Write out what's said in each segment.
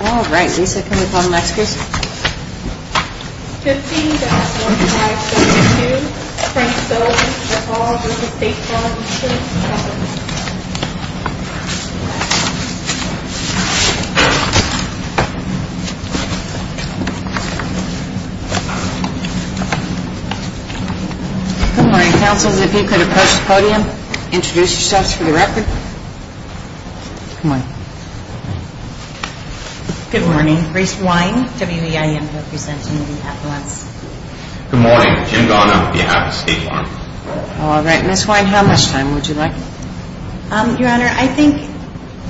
Alright, Lisa, can we call the next case? 15-1572, Princeville v. DePaul v. State Farm Insurance Co. Good morning, counsels. If you could approach the podium, introduce yourselves for the record. Good morning. Good morning. Grace Wine, WEIM, representing the Appellants. Good morning. Jim Garner, behalf of State Farm. Alright, Ms. Wine, how much time would you like? Your Honor, I think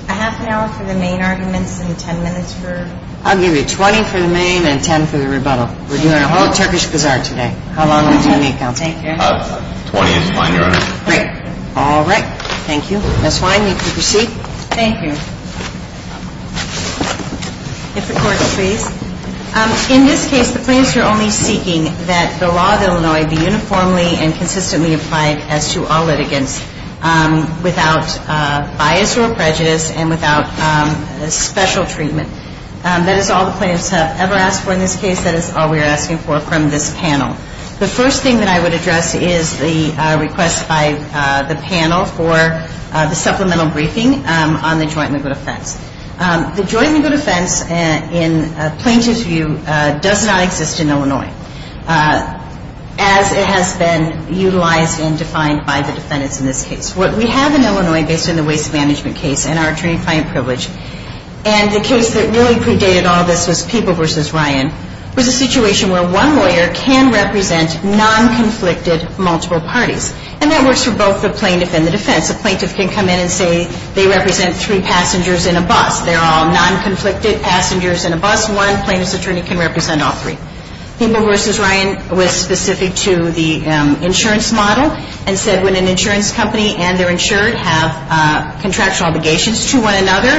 a half an hour for the main arguments and ten minutes for... I'll give you 20 for the main and 10 for the rebuttal. We're doing a whole Turkish bazaar today. How long will 20 count? 20 is fine, Your Honor. Great. Alright. Thank you. Ms. Wine, you can proceed. Thank you. If the Court please. In this case, the plaintiffs are only seeking that the law of Illinois be uniformly and consistently applied as to all litigants without bias or prejudice and without special treatment. That is all the plaintiffs have ever asked for in this case. That is all we are asking for from this panel. The first thing that I would address is the request by the panel for the supplemental briefing on the joint legal defense. The joint legal defense, in a plaintiff's view, does not exist in Illinois as it has been utilized and defined by the defendants in this case. What we have in Illinois, based on the waste management case and our attorney-client privilege, and the case that really predated all this was People v. Ryan, was a situation where one lawyer can represent non-conflicted multiple parties. And that works for both the plaintiff and the defense. A plaintiff can come in and say they represent three passengers in a bus. They're all non-conflicted passengers in a bus. One plaintiff's attorney can represent all three. People v. Ryan was specific to the insurance model and said when an insurance company and their insured have contractual obligations to one another,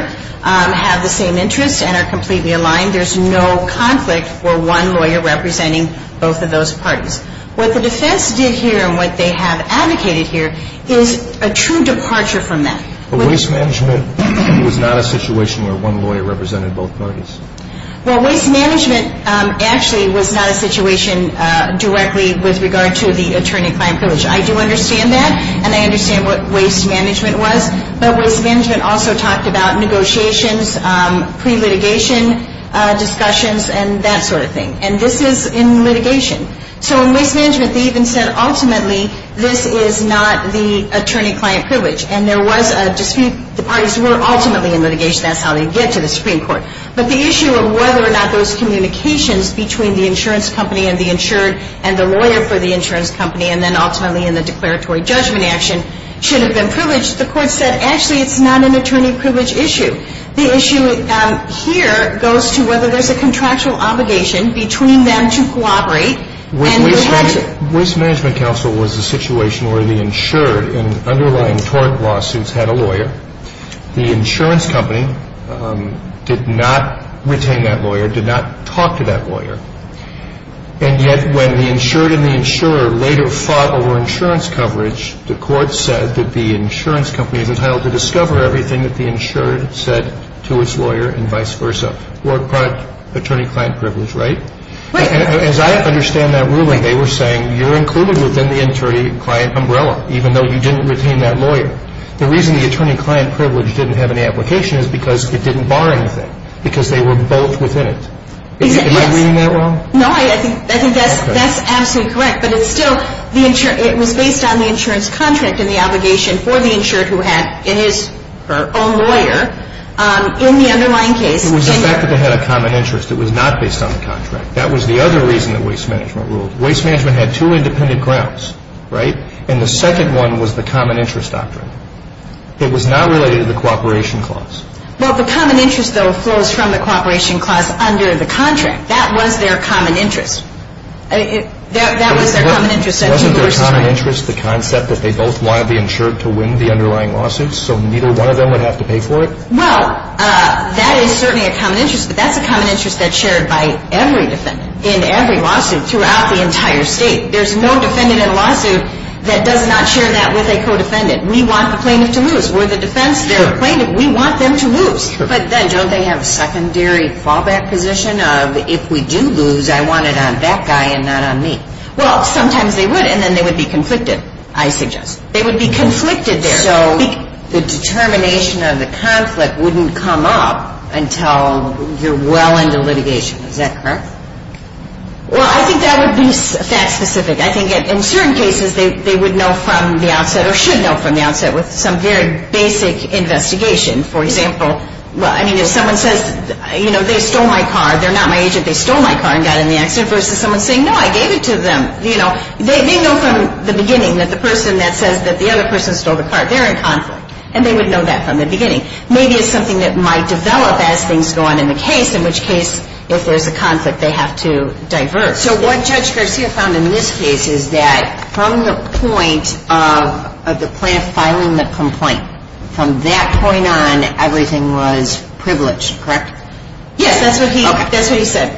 have the same interests and are completely aligned, there's no conflict for one lawyer representing both of those parties. What the defense did here and what they have advocated here is a true departure from that. Waste management was not a situation where one lawyer represented both parties. Waste management actually was not a situation directly with regard to the attorney-client privilege. I do understand that, and I understand what waste management was. But waste management also talked about negotiations, pre-litigation discussions, and that sort of thing. And this is in litigation. So in waste management, they even said ultimately this is not the attorney-client privilege. And there was a dispute. The parties were ultimately in litigation. That's how they get to the Supreme Court. But the issue of whether or not those communications between the insurance company and the insured and the lawyer for the insurance company and then ultimately in the declaratory judgment action should have been privileged, the court said actually it's not an attorney privilege issue. The issue here goes to whether there's a contractual obligation between them to cooperate. Waste management counsel was a situation where the insured in underlying tort lawsuits had a lawyer. The insurance company did not retain that lawyer, did not talk to that lawyer. And yet when the insured and the insurer later fought over insurance coverage, the court said that the insurance company is entitled to discover everything that the insured said to its lawyer and vice versa, or attorney-client privilege, right? As I understand that ruling, they were saying you're included within the attorney-client umbrella, even though you didn't retain that lawyer. The reason the attorney-client privilege didn't have any application is because it didn't bar anything, because they were both within it. Am I reading that wrong? No, I think that's absolutely correct. But it's still, it was based on the insurance contract and the obligation for the insured who had his or her own lawyer in the underlying case. It was the fact that they had a common interest. It was not based on the contract. That was the other reason that waste management ruled. Waste management had two independent grounds, right? And the second one was the common interest doctrine. It was not related to the cooperation clause. Well, the common interest, though, flows from the cooperation clause under the contract. That was their common interest. That was their common interest. Wasn't their common interest the concept that they both wanted the insured to win the underlying lawsuit so neither one of them would have to pay for it? Well, that is certainly a common interest, but that's a common interest that's shared by every defendant in every lawsuit throughout the entire state. There's no defendant in a lawsuit that does not share that with a co-defendant. We want the plaintiff to lose. We're the defense. They're the plaintiff. We want them to lose. But then don't they have a secondary fallback position of, if we do lose, I want it on that guy and not on me? Well, sometimes they would, and then they would be conflicted, I suggest. They would be conflicted there. So the determination of the conflict wouldn't come up until you're well into litigation. Is that correct? Well, I think that would be fact specific. I think in certain cases they would know from the outset or should know from the outset with some very basic investigation. For example, I mean, if someone says, you know, they stole my car, they're not my agent, they stole my car and got in the accident, versus someone saying, no, I gave it to them. You know, they know from the beginning that the person that says that the other person stole the car, they're in conflict, and they would know that from the beginning. Maybe it's something that might develop as things go on in the case, in which case if there's a conflict they have to diverge. So what Judge Garcia found in this case is that from the point of the plant filing the complaint, from that point on everything was privileged, correct? Yes, that's what he said.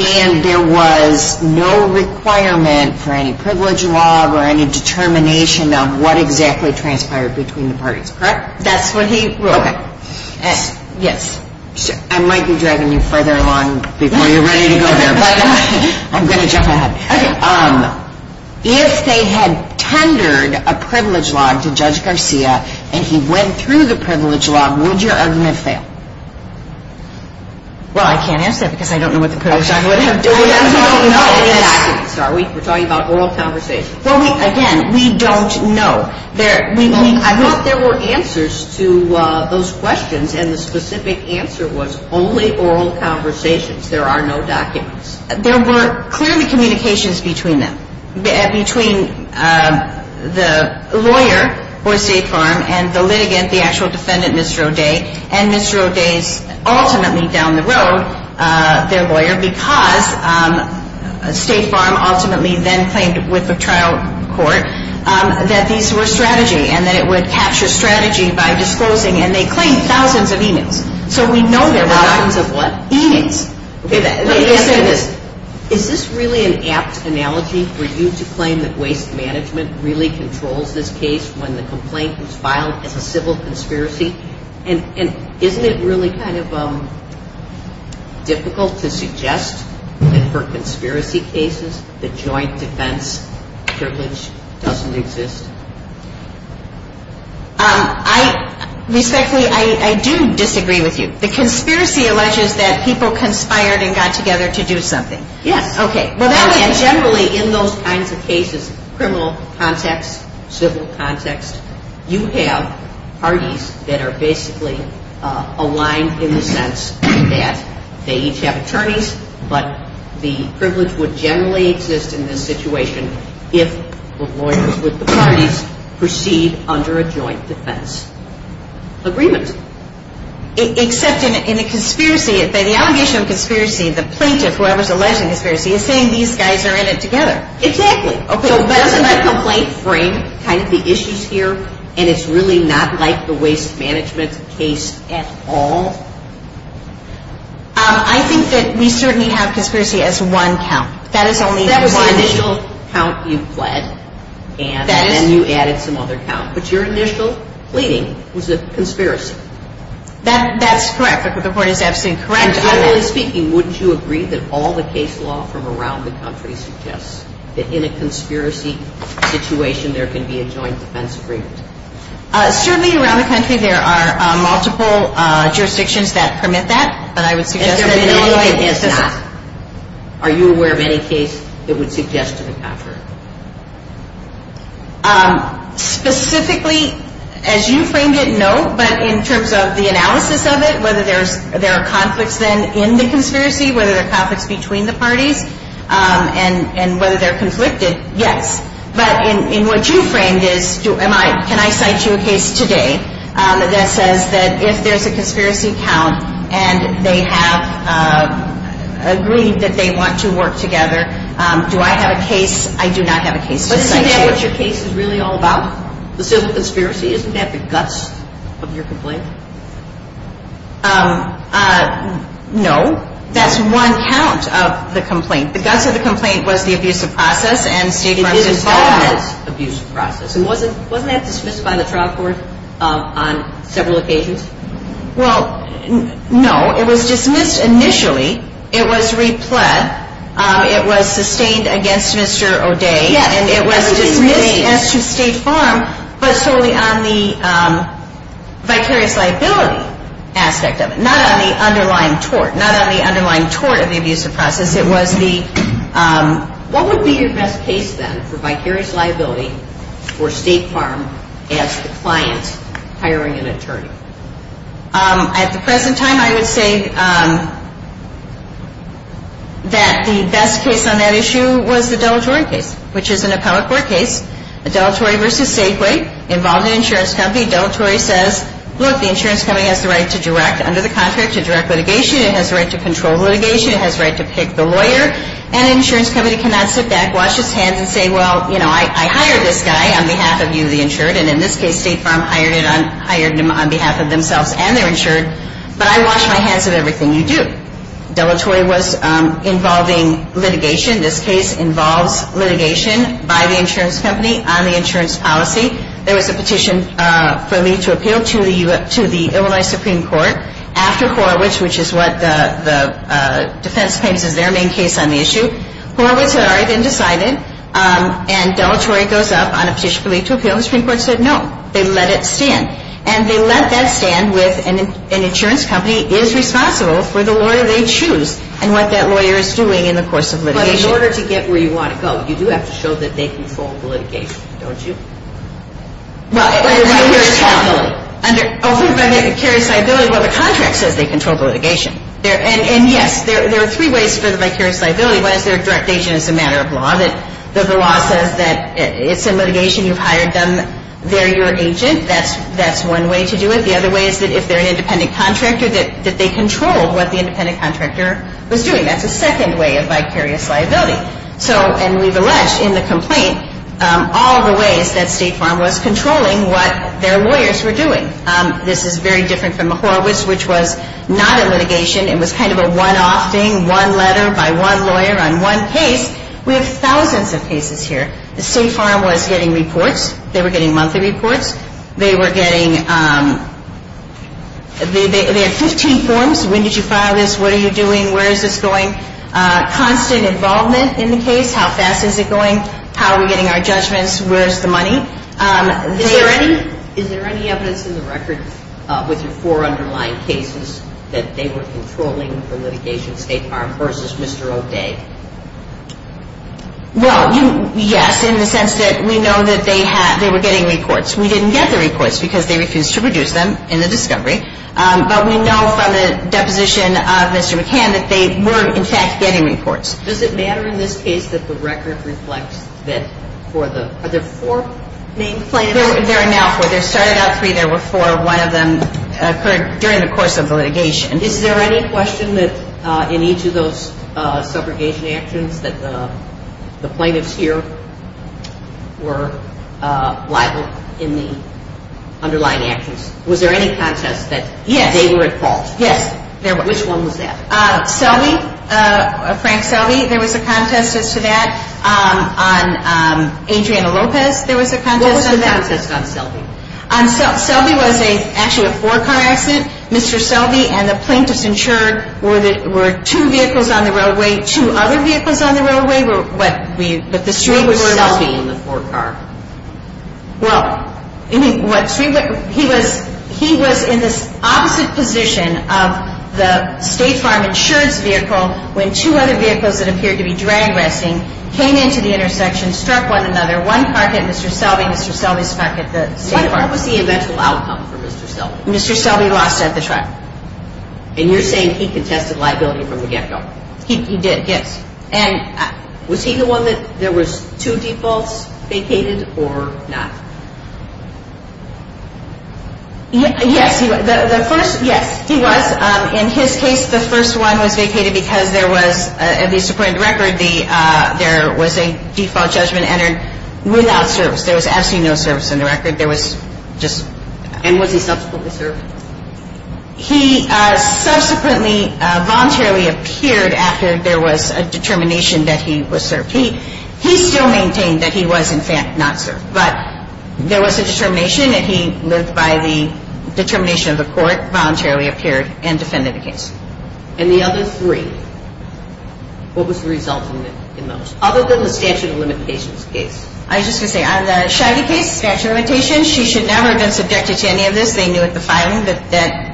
And there was no requirement for any privilege law or any determination of what exactly transpired between the parties, correct? That's what he ruled. Okay. Yes. I might be dragging you further along before you're ready to go there, but I'm going to jump ahead. Okay. If they had tendered a privilege law to Judge Garcia and he went through the privilege law, would your argument fail? Well, I can't answer that because I don't know what the privilege law would have done. We don't know. We're talking about oral conversations. Well, again, we don't know. I thought there were answers to those questions, and the specific answer was only oral conversations. There are no documents. There were clearly communications between them, between the lawyer for State Farm and the litigant, the actual defendant, Mr. O'Day, and Mr. O'Day's ultimately down the road, their lawyer, because State Farm ultimately then claimed with the trial court that these were strategy and that it would capture strategy by disclosing, and they claimed thousands of e-mails. So we know there were thousands of what? E-mails. Okay. Let me ask you this. Is this really an apt analogy for you to claim that waste management really controls this case when the complaint was filed as a civil conspiracy? And isn't it really kind of difficult to suggest that for conspiracy cases, the joint defense privilege doesn't exist? Respectfully, I do disagree with you. The conspiracy alleges that people conspired and got together to do something. Yes. Okay. Well, then generally in those kinds of cases, criminal context, civil context, you have parties that are basically aligned in the sense that they each have attorneys, but the privilege would generally exist in this situation if the lawyers with the parties proceed under a joint defense agreement. Except in a conspiracy, the allegation of conspiracy, the plaintiff, whoever's alleging conspiracy, is saying these guys are in it together. Exactly. Okay. So doesn't that complaint frame kind of the issues here, and it's really not like the waste management case at all? I think that we certainly have conspiracy as one count. That is only one. That was the initial count you pled, and then you added some other count. But your initial pleading was a conspiracy. That's correct. The report is absolutely correct on that. Generally speaking, wouldn't you agree that all the case law from around the country suggests that in a conspiracy situation there can be a joint defense agreement? Certainly around the country there are multiple jurisdictions that permit that, but I would suggest that Illinois does not. Are you aware of any case that would suggest to the contrary? Specifically, as you framed it, no, but in terms of the analysis of it, whether there are conflicts then in the conspiracy, whether there are conflicts between the parties, and whether they're conflicted, yes. But in what you framed, can I cite you a case today that says that if there's a conspiracy count and they have agreed that they want to work together, do I have a case? I do not have a case to cite you. Isn't that what your case is really all about? The conspiracy, isn't that the guts of your complaint? No, that's one count of the complaint. The guts of the complaint was the abusive process and State Farm's involvement. It is and still is an abusive process. Wasn't that dismissed by the trial court on several occasions? Well, no. It was dismissed initially. It was repled. It was sustained against Mr. O'Day. And it was dismissed as to State Farm, but solely on the vicarious liability aspect of it, not on the underlying tort, not on the underlying tort of the abusive process. It was the ‑‑ What would be your best case then for vicarious liability for State Farm as the client hiring an attorney? At the present time, I would say that the best case on that issue was the Della Jordan case, which is an appellate court case. A Dellatory v. Safeway involved an insurance company. Dellatory says, look, the insurance company has the right to direct under the contract to direct litigation. It has the right to control litigation. It has the right to pick the lawyer. And the insurance company cannot sit back, wash its hands and say, well, you know, I hired this guy on behalf of you, the insured. And in this case, State Farm hired him on behalf of themselves and their insured. But I wash my hands of everything you do. Dellatory was involving litigation. This case involves litigation by the insurance company on the insurance policy. There was a petition for me to appeal to the Illinois Supreme Court after Horowitz, which is what the defense claims is their main case on the issue. Horowitz had already been decided. And Dellatory goes up on a petition for me to appeal. The Supreme Court said no. They let it stand. And they let that stand with an insurance company is responsible for the lawyer they choose and what that lawyer is doing in the course of litigation. But in order to get where you want to go, you do have to show that they control the litigation, don't you? Well, under the contract says they control the litigation. And, yes, there are three ways for them to carry a liability. One is their direct agent is a matter of law. The law says that it's a litigation. You've hired them. They're your agent. That's one way to do it. The other way is that if they're an independent contractor, that they control what the independent contractor was doing. That's a second way of vicarious liability. And we've alleged in the complaint all the ways that State Farm was controlling what their lawyers were doing. This is very different from Horowitz, which was not a litigation. It was kind of a one-off thing, one letter by one lawyer on one case. We have thousands of cases here. The State Farm was getting reports. They were getting monthly reports. They were getting 15 forms. When did you file this? What are you doing? Where is this going? Constant involvement in the case. How fast is it going? How are we getting our judgments? Where is the money? Is there any evidence in the record with your four underlying cases that they were controlling the litigation, State Farm versus Mr. O'Day? Well, yes, in the sense that we know that they were getting reports. We didn't get the reports because they refused to produce them in the discovery. But we know from the deposition of Mr. McCann that they were, in fact, getting reports. Does it matter in this case that the record reflects that for the other four main plaintiffs? There are now four. There started out three. There were four. One of them occurred during the course of the litigation. Is there any question that in each of those subrogation actions that the plaintiffs here were liable in the underlying actions? Was there any contest that they were at fault? Yes. Which one was that? Selby, Frank Selby, there was a contest as to that. On Adriana Lopez, there was a contest on that. What was the contest on Selby? Selby was actually a four-car accident. Mr. Selby and the plaintiffs insured were two vehicles on the railway. Two other vehicles on the railway were what we, but the street was Selby. Why was Selby in the four-car? Well, he was in this opposite position of the State Farm insured's vehicle when two other vehicles that appeared to be drag wrestling came into the intersection, struck one another. One car hit Mr. Selby. Mr. Selby's car hit the State Farm. What was the eventual outcome for Mr. Selby? Mr. Selby lost at the trial. And you're saying he contested liability from the get-go? He did, yes. And was he the one that there was two defaults vacated or not? Yes. The first, yes, he was. In his case, the first one was vacated because there was, at least according to the record, there was a default judgment entered without service. There was absolutely no service in the record. There was just. And was he subsequently served? He subsequently voluntarily appeared after there was a determination that he was served. He still maintained that he was, in fact, not served. But there was a determination that he lived by the determination of the court, voluntarily appeared, and defended the case. And the other three, what was the result in those? Other than the statute of limitations case. I was just going to say, on the Scheide case, statute of limitations, she should never have been subjected to any of this. They knew at the filing that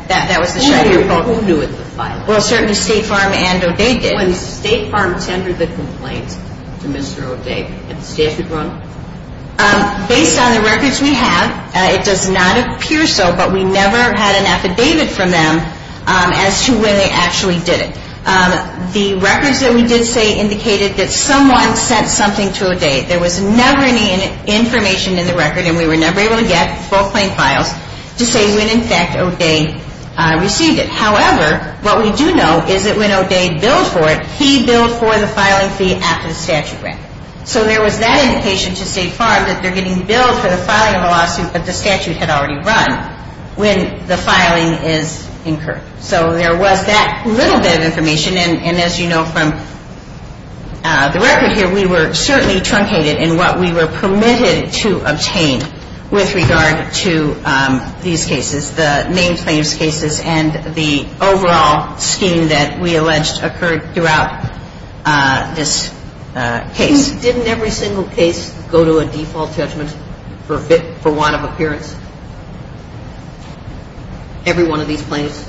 that was the Scheide report. Who knew at the filing? Well, certainly State Farm and O'Day did. When State Farm tendered the complaint to Mr. O'Day, had the statute run? Based on the records we have, it does not appear so, but we never had an affidavit from them as to when they actually did it. The records that we did say indicated that someone sent something to O'Day. There was never any information in the record, and we were never able to get full claim files to say when, in fact, O'Day received it. However, what we do know is that when O'Day billed for it, he billed for the filing fee after the statute ran. So there was that indication to State Farm that they're getting billed for the filing of a lawsuit that the statute had already run when the filing is incurred. So there was that little bit of information, and as you know from the record here, we were certainly truncated in what we were permitted to obtain with regard to these cases, the main plaintiff's cases and the overall scheme that we alleged occurred throughout this case. Didn't every single case go to a default judgment for one of appearance? Every one of these plaintiffs?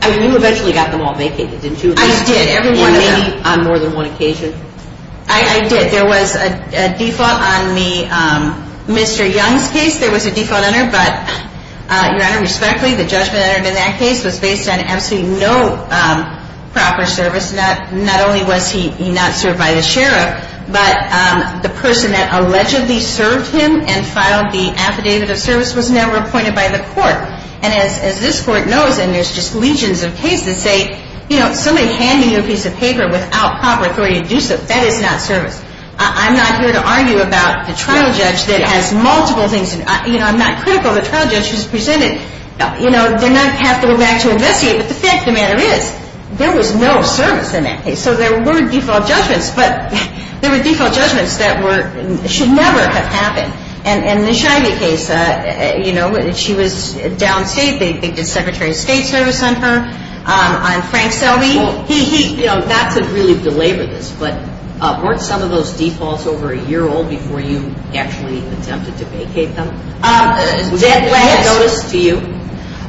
I mean, you eventually got them all vacated, didn't you? I did, every one of them. And maybe on more than one occasion? I did. There was a default on the Mr. Young's case. There was a default on it, but, Your Honor, respectfully, the judgment entered in that case was based on absolutely no proper service. Not only was he not served by the sheriff, but the person that allegedly served him and filed the affidavit of service was never appointed by the court. And as this Court knows, and there's just legions of cases say, you know, somebody handing you a piece of paper without proper authority to do so, that is not service. I'm not here to argue about the trial judge that has multiple things. You know, I'm not critical of the trial judge who's presented. You know, they're not going to have to go back to investigate. But the fact of the matter is, there was no service in that case. So there were default judgments, but there were default judgments that should never have happened. And in the Scheibe case, you know, she was downstate. They did Secretary of State service on her. On Frank Selby, he, you know, not to really belabor this, but weren't some of those defaults over a year old before you actually attempted to vacate them? Was that a notice to you?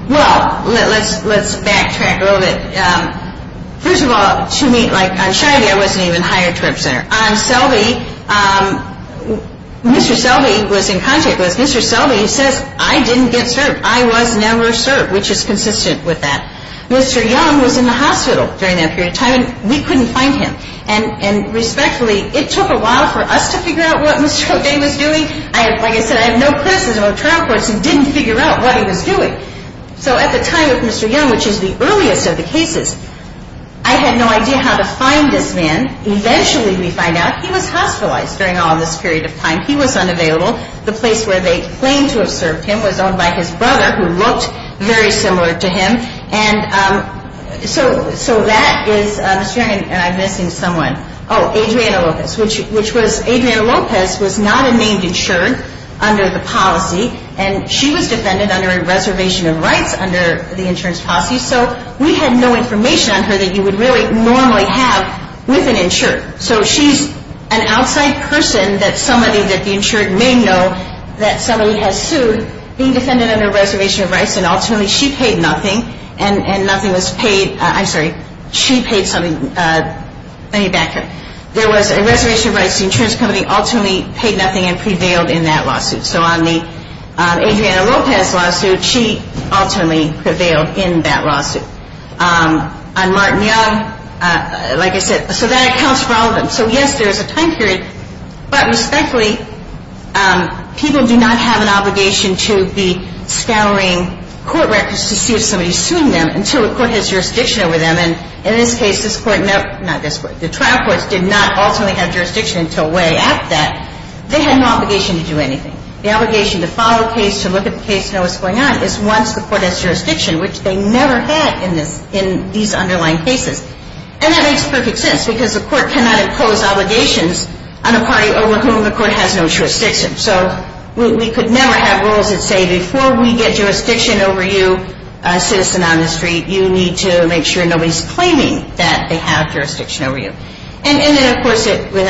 Well, let's backtrack a little bit. First of all, to me, like, on Scheibe, I wasn't even hired to represent her. On Selby, Mr. Selby was in contact with us. Mr. Selby says, I didn't get served. I was never served, which is consistent with that. Mr. Young was in the hospital during that period of time, and we couldn't find him. And respectfully, it took a while for us to figure out what Mr. O'Day was doing. Like I said, I have no criticism of trial courts who didn't figure out what he was doing. So at the time of Mr. Young, which is the earliest of the cases, I had no idea how to find this man. Eventually we find out he was hospitalized during all of this period of time. He was unavailable. The place where they claimed to have served him was owned by his brother, who looked very similar to him. And so that is Mr. Young, and I'm missing someone. Oh, Adriana Lopez, which was, Adriana Lopez was not a named insured under the policy, and she was defended under a reservation of rights under the insurance policy. So we had no information on her that you would really normally have with an insured. So she's an outside person that somebody that the insured may know that somebody has sued, being defended under a reservation of rights, and ultimately she paid nothing, and nothing was paid. I'm sorry. She paid something, money back. There was a reservation of rights. The insurance company ultimately paid nothing and prevailed in that lawsuit. So on the Adriana Lopez lawsuit, she ultimately prevailed in that lawsuit. On Martin Young, like I said, so that accounts for all of them. So, yes, there is a time period, but respectfully, people do not have an obligation to be scouring court records to see if somebody is suing them until the court has jurisdiction over them. And in this case, this court, no, not this court, the trial courts did not ultimately have jurisdiction until way after that. They had no obligation to do anything. The obligation to follow a case, to look at the case, to know what's going on is once the court has jurisdiction, which they never had in these underlying cases. And that makes perfect sense because the court cannot impose obligations on a party over whom the court has no jurisdiction. So we could never have rules that say before we get jurisdiction over you, a citizen on the street, you need to make sure nobody's claiming that they have jurisdiction over you. And then, of course, we're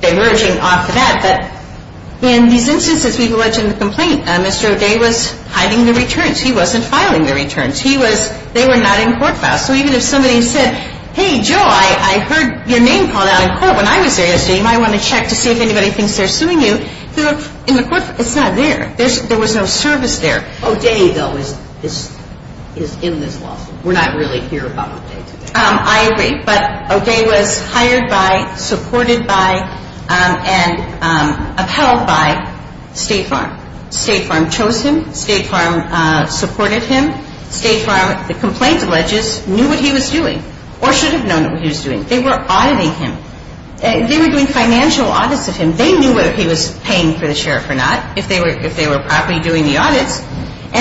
diverging off of that, but in these instances, we've alleged in the complaint, Mr. O'Day was hiding the returns. He wasn't filing the returns. He was, they were not in court files. So even if somebody said, hey, Joe, I heard your name called out in court when I was there yesterday. You might want to check to see if anybody thinks they're suing you. In the court, it's not there. There was no service there. O'Day, though, is in this lawsuit. We're not really here about O'Day today. I agree. But O'Day was hired by, supported by, and upheld by State Farm. State Farm chose him. State Farm supported him. State Farm, the complaint alleges, knew what he was doing or should have known what he was doing. They were auditing him. They were doing financial audits of him. They knew whether he was paying for the sheriff or not, if they were properly doing the audits. And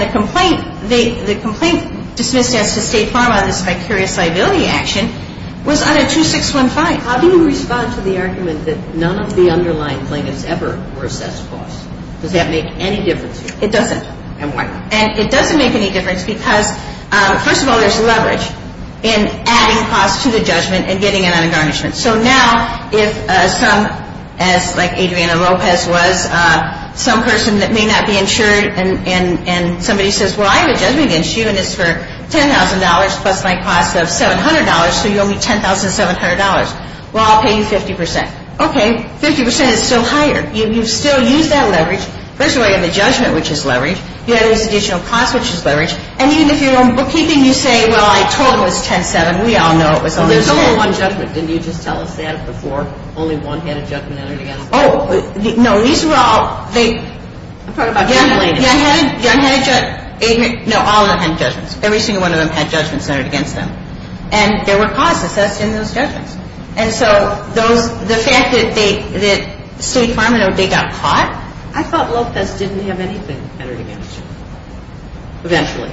the complaint, the complaint dismissed as to State Farm on this vicarious liability action was audit 2615. How do you respond to the argument that none of the underlying plaintiffs ever were assessed false? Does that make any difference to you? It doesn't. And why not? And it doesn't make any difference because, first of all, there's leverage in adding false to the judgment and getting it on a garnishment. So now if some, as like Adriana Lopez was, some person that may not be insured and somebody says, well, I have a judgment issue and it's for $10,000 plus my cost of $700, so you owe me $10,700. Well, I'll pay you 50%. Okay, 50% is still higher. You've still used that leverage. First of all, you have the judgment, which is leverage. You have this additional cost, which is leverage. And even if you're on bookkeeping, you say, well, I told him it was 10-7. We all know it was only 10. Well, what about judgment? Didn't you just tell us that before? Only one had a judgment entered against them? Oh, no. These were all, they, young had a judgment. No, all of them had judgments. Every single one of them had judgments entered against them. And there were costs assessed in those judgments. And so those, the fact that they, that State Department owed, they got caught? I thought Lopez didn't have anything entered against him. Eventually.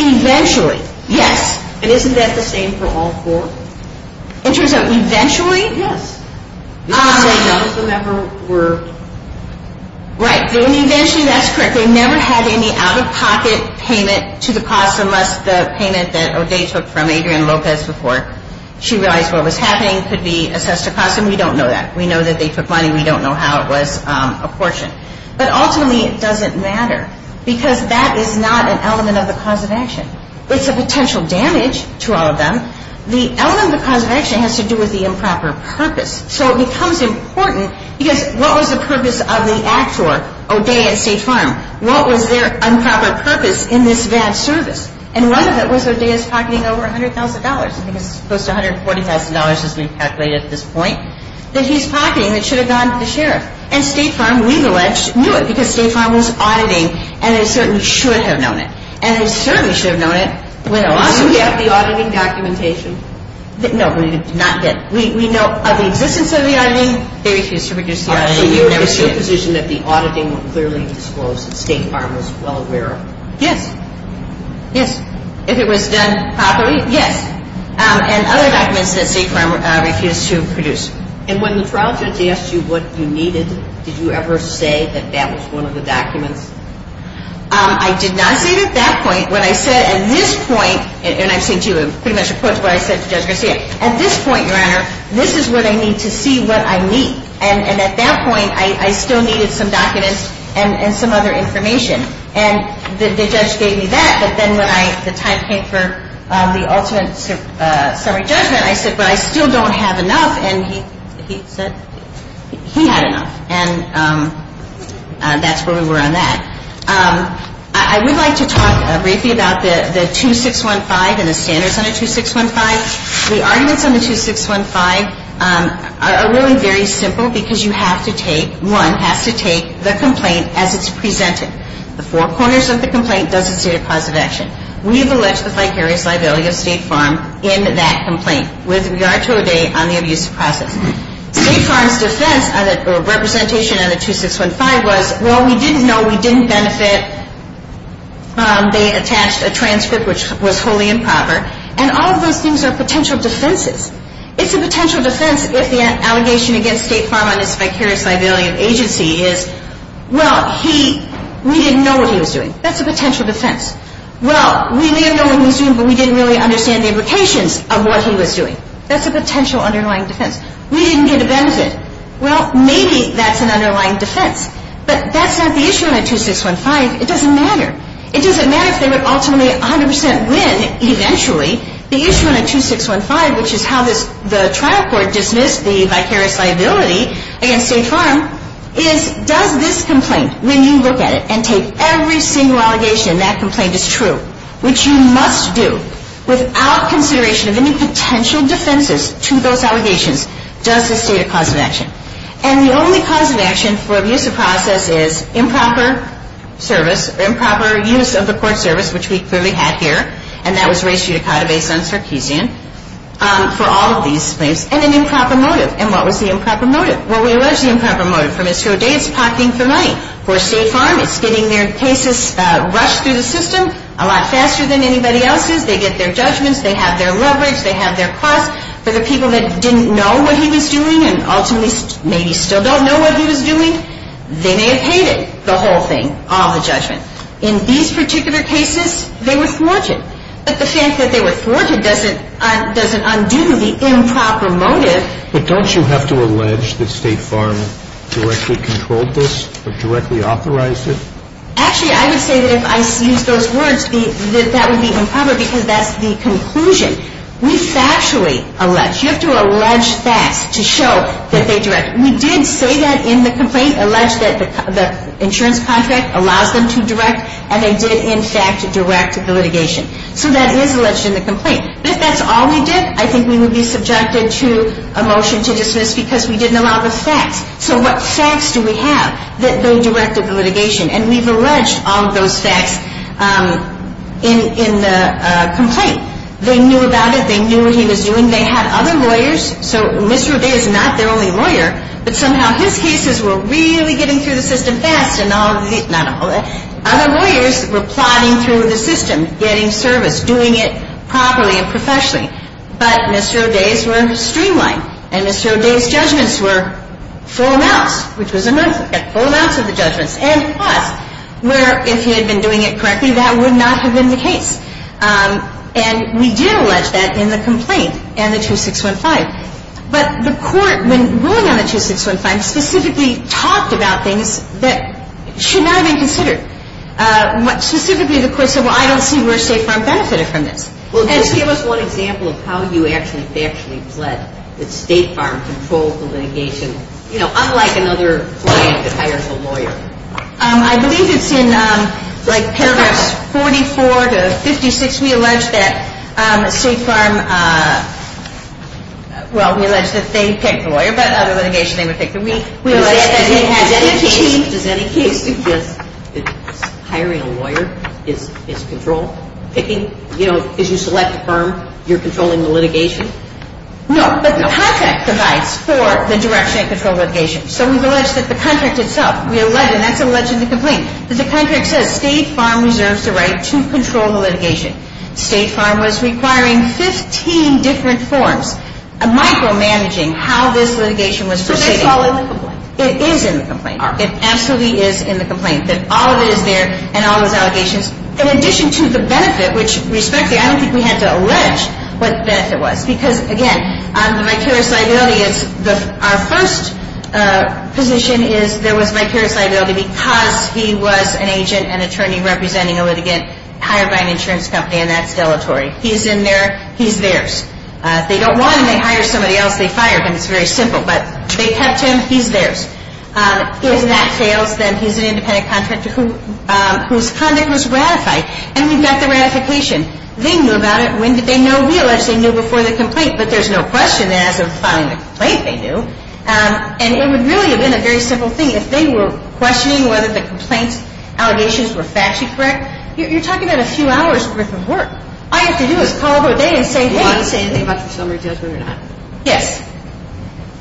Eventually. Yes. And isn't that the same for all four? In terms of eventually? Yes. You're trying to say none of them ever were. Right. When eventually, that's correct. They never had any out-of-pocket payment to the costs unless the payment that O'Day took from Adrian Lopez before she realized what was happening could be assessed to cost them. We don't know that. We know that they took money. We don't know how it was apportioned. But ultimately, it doesn't matter because that is not an element of the cause of action. It's a potential damage to all of them. The element of the cause of action has to do with the improper purpose. So it becomes important because what was the purpose of the act for O'Day and State Farm? What was their improper purpose in this bad service? And one of it was O'Day's pocketing over $100,000. I think it's close to $140,000 as we've calculated at this point that he's pocketing that should have gone to the sheriff. And State Farm, we've alleged, knew it because State Farm was auditing and they certainly should have known it. Well, do we have the auditing documentation? No, we did not get it. We know of the existence of the auditing. They refused to produce the auditing. So you're in a position that the auditing clearly disclosed that State Farm was well aware of it? Yes. Yes. If it was done properly? Yes. And other documents that State Farm refused to produce. And when the trial judge asked you what you needed, did you ever say that that was one of the documents? I did not say it at that point. What I said at this point, and I've said to you, I'm pretty much opposed to what I said to Judge Garcia. At this point, Your Honor, this is what I need to see what I need. And at that point, I still needed some documents and some other information. And the judge gave me that. But then when the time came for the ultimate summary judgment, I said, but I still don't have enough. And he said he had enough. And that's where we were on that. I would like to talk briefly about the 2615 and the standards under 2615. The arguments under 2615 are really very simple because you have to take, one, has to take the complaint as it's presented. The four corners of the complaint doesn't state a cause of action. We have alleged the vicarious liability of State Farm in that complaint with regard to a date on the abuse process. State Farm's defense or representation under 2615 was, well, we didn't know, we didn't benefit, they attached a transcript which was wholly improper. And all of those things are potential defenses. It's a potential defense if the allegation against State Farm on this vicarious liability of agency is, well, we didn't know what he was doing. That's a potential defense. Well, we may have known what he was doing, but we didn't really understand the implications of what he was doing. That's a potential underlying defense. We didn't get a benefit. Well, maybe that's an underlying defense. But that's not the issue on a 2615. It doesn't matter. It doesn't matter if they would ultimately 100% win eventually. The issue on a 2615, which is how the trial court dismissed the vicarious liability against State Farm, is does this complaint, when you look at it and take every single allegation in that complaint as true, which you must do without consideration of any potential defenses to those allegations, does this state a cause of action? And the only cause of action for abuse of process is improper service, improper use of the court service, which we clearly had here, and that was race judicata based on Sarkeesian, for all of these things, and an improper motive. And what was the improper motive? Well, we allege the improper motive. For Mr. O'Day, it's pocketing for money. For State Farm, it's getting their cases rushed through the system a lot faster than anybody else's. They get their judgments. They have their leverage. They have their costs. For the people that didn't know what he was doing and ultimately maybe still don't know what he was doing, they may have paid it, the whole thing, all the judgment. In these particular cases, they were thwarted. But the fact that they were thwarted doesn't undo the improper motive. But don't you have to allege that State Farm directly controlled this or directly authorized it? Actually, I would say that if I used those words, that would be improper because that's the conclusion. We factually allege. You have to allege facts to show that they directed. We did say that in the complaint, allege that the insurance contract allows them to direct, and they did, in fact, direct the litigation. So that is alleged in the complaint. If that's all we did, I think we would be subjected to a motion to dismiss because we didn't allow the facts. So what facts do we have that they directed the litigation? And we've alleged all of those facts in the complaint. They knew about it. They knew what he was doing. They had other lawyers. So Mr. O'Day is not their only lawyer, but somehow his cases were really getting through the system fast. Other lawyers were plotting through the system, getting service, doing it properly and professionally. But Mr. O'Day's were streamlined, and Mr. O'Day's judgments were full amounts, which was a month. He got full amounts of the judgments and costs where if he had been doing it correctly, that would not have been the case. And we did allege that in the complaint and the 2615. But the court, when ruling on the 2615, specifically talked about things that should not have been considered. Specifically, the court said, well, I don't see where State Farm benefited from this. Well, just give us one example of how you actually factually pled that State Farm controlled the litigation, you know, unlike another client that hires a lawyer. I believe it's in like paragraphs 44 to 56. We allege that State Farm, well, we allege that they picked the lawyer, but other litigation they would pick. But we allege that they had the team. Does any case suggest that hiring a lawyer is control picking? You know, because you select a firm, you're controlling the litigation? No, but the contract provides for the direction and control of litigation. So we've alleged that the contract itself, we allege, and that's alleged in the complaint, that the contract says State Farm reserves the right to control the litigation. State Farm was requiring 15 different forms, micromanaging how this litigation was proceeding. But that's all in the complaint. It is in the complaint. All right. It absolutely is in the complaint, that all of it is there and all those allegations. In addition to the benefit, which, respectfully, I don't think we had to allege what the benefit was, because, again, the vicarious liability, our first position is there was vicarious liability because he was an agent and attorney representing a litigant hired by an insurance company, and that's deletory. He's in there. He's theirs. They don't want him. They hire somebody else. They fire him. It's very simple. But they kept him. He's theirs. If that fails, then he's an independent contractor whose conduct was ratified. And we've got the ratification. They knew about it. When did they know? We allege they knew before the complaint, but there's no question that as of filing the complaint, they knew. And it would really have been a very simple thing. If they were questioning whether the complaint's allegations were factually correct, you're talking about a few hours' worth of work. All you have to do is call them a day and say, hey. Do you want to say anything about your summary judgment or not? Yes.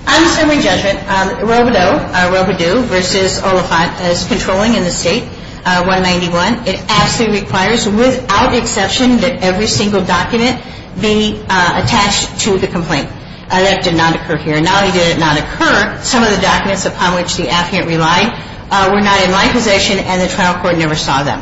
On the summary judgment, Robodeau versus Oliphant is controlling in the state, 191. It absolutely requires, without exception, that every single document be attached to the complaint. That did not occur here. Not only did it not occur, some of the documents upon which the affidavit relied were not in my possession, and the trial court never saw them.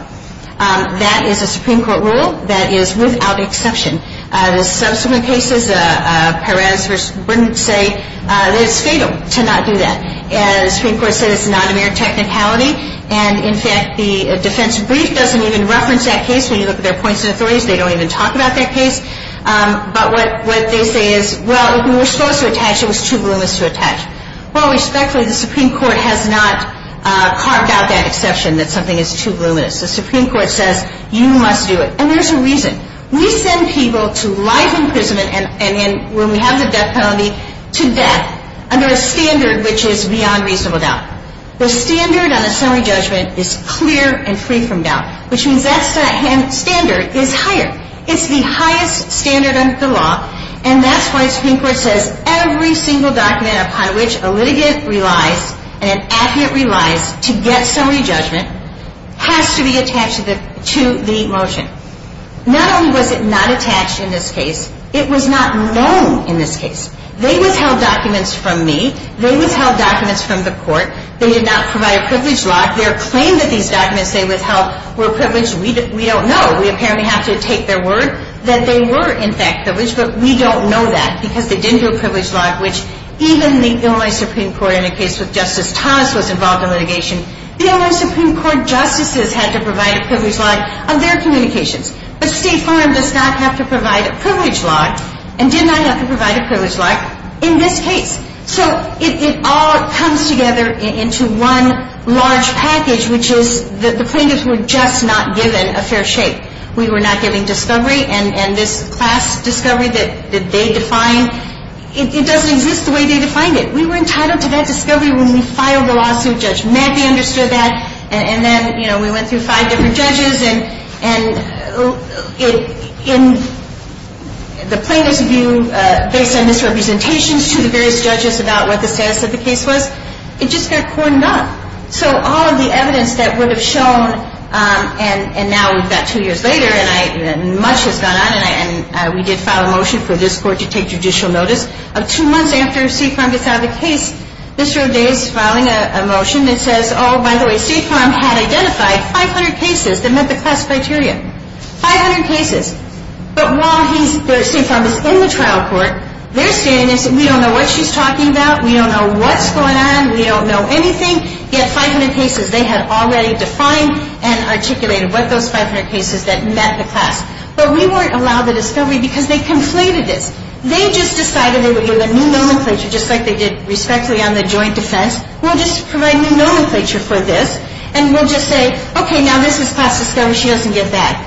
That is a Supreme Court rule. That is without exception. The subsequent cases, Perez versus Brinton, say that it's fatal to not do that. The Supreme Court said it's a non-emergent technicality. And, in fact, the defense brief doesn't even reference that case. When you look at their points of authority, they don't even talk about that case. But what they say is, well, we were supposed to attach. It was too voluminous to attach. Well, respectfully, the Supreme Court has not carved out that exception that something is too voluminous. The Supreme Court says you must do it. And there's a reason. We send people to life imprisonment, and when we have the death penalty, to death, under a standard which is beyond reasonable doubt. The standard on the summary judgment is clear and free from doubt, which means that standard is higher. It's the highest standard under the law, and that's why the Supreme Court says every single document upon which a litigant relies and an advocate relies to get summary judgment has to be attached to the motion. Not only was it not attached in this case, it was not known in this case. They withheld documents from me. They withheld documents from the court. They did not provide a privilege lock. Their claim that these documents they withheld were privileged, we don't know. We apparently have to take their word that they were, in fact, privileged, but we don't know that because they didn't do a privilege lock, which even the Illinois Supreme Court in a case with Justice Thomas was involved in litigation. The Illinois Supreme Court justices had to provide a privilege lock on their communications. But State Farm does not have to provide a privilege lock and did not have to provide a privilege lock in this case. So it all comes together into one large package, which is that the plaintiffs were just not given a fair shake. We were not given discovery, and this class discovery that they defined, it doesn't exist the way they defined it. We were entitled to that discovery when we filed the lawsuit. Judge Mackey understood that, and then, you know, we went through five different judges, and in the plaintiff's view, based on misrepresentations to the various judges about what the status of the case was, it just got cornered up. So all of the evidence that would have shown, and now we've got two years later, and much has gone on, and we did file a motion for this court to take judicial notice. Two months after State Farm gets out of the case, Mr. O'Day is filing a motion that says, oh, by the way, State Farm had identified 500 cases that met the class criteria, 500 cases. But while State Farm is in the trial court, they're standing there saying, we don't know what she's talking about, we don't know what's going on, we don't know anything, yet 500 cases they had already defined and articulated what those 500 cases that met the class. But we weren't allowed the discovery because they conflated this. They just decided they would do the new nomenclature, just like they did respectfully on the joint defense. We'll just provide new nomenclature for this, and we'll just say, okay, now this is class discovery. She doesn't get that.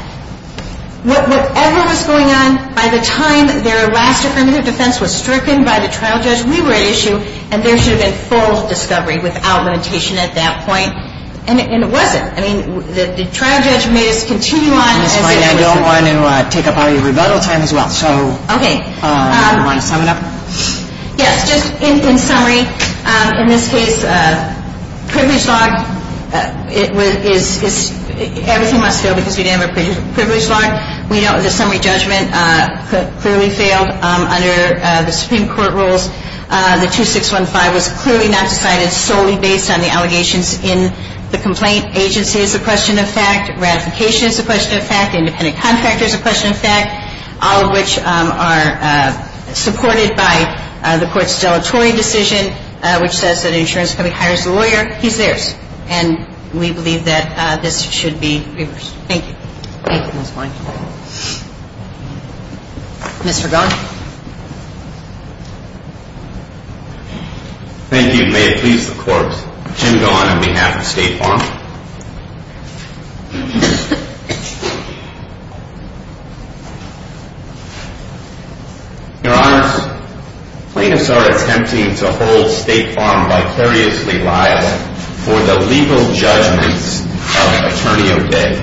Whatever was going on by the time their last affirmative defense was stricken by the trial judge, we were at issue, and there should have been full discovery without limitation at that point. And it wasn't. I mean, the trial judge made us continue on. And that's why I don't want to take up all your rebuttal time as well. Okay. Do you want to sum it up? Yes. Just in summary, in this case, privilege log is everything must fail because we didn't have a privilege log. We know the summary judgment clearly failed under the Supreme Court rules. The 2615 was clearly not decided solely based on the allegations in the complaint. Agency is a question of fact. Ratification is a question of fact. Independent contractor is a question of fact. All of which are supported by the court's deletory decision, which says that an insurance company hires a lawyer. He's theirs. And we believe that this should be reversed. Thank you. Thank you. That's fine. Mr. Gaughan. Thank you. May it please the court, Jim Gaughan on behalf of State Farm. Your Honor, plaintiffs are attempting to hold State Farm vicariously liable for the legal judgments of an attorney of day.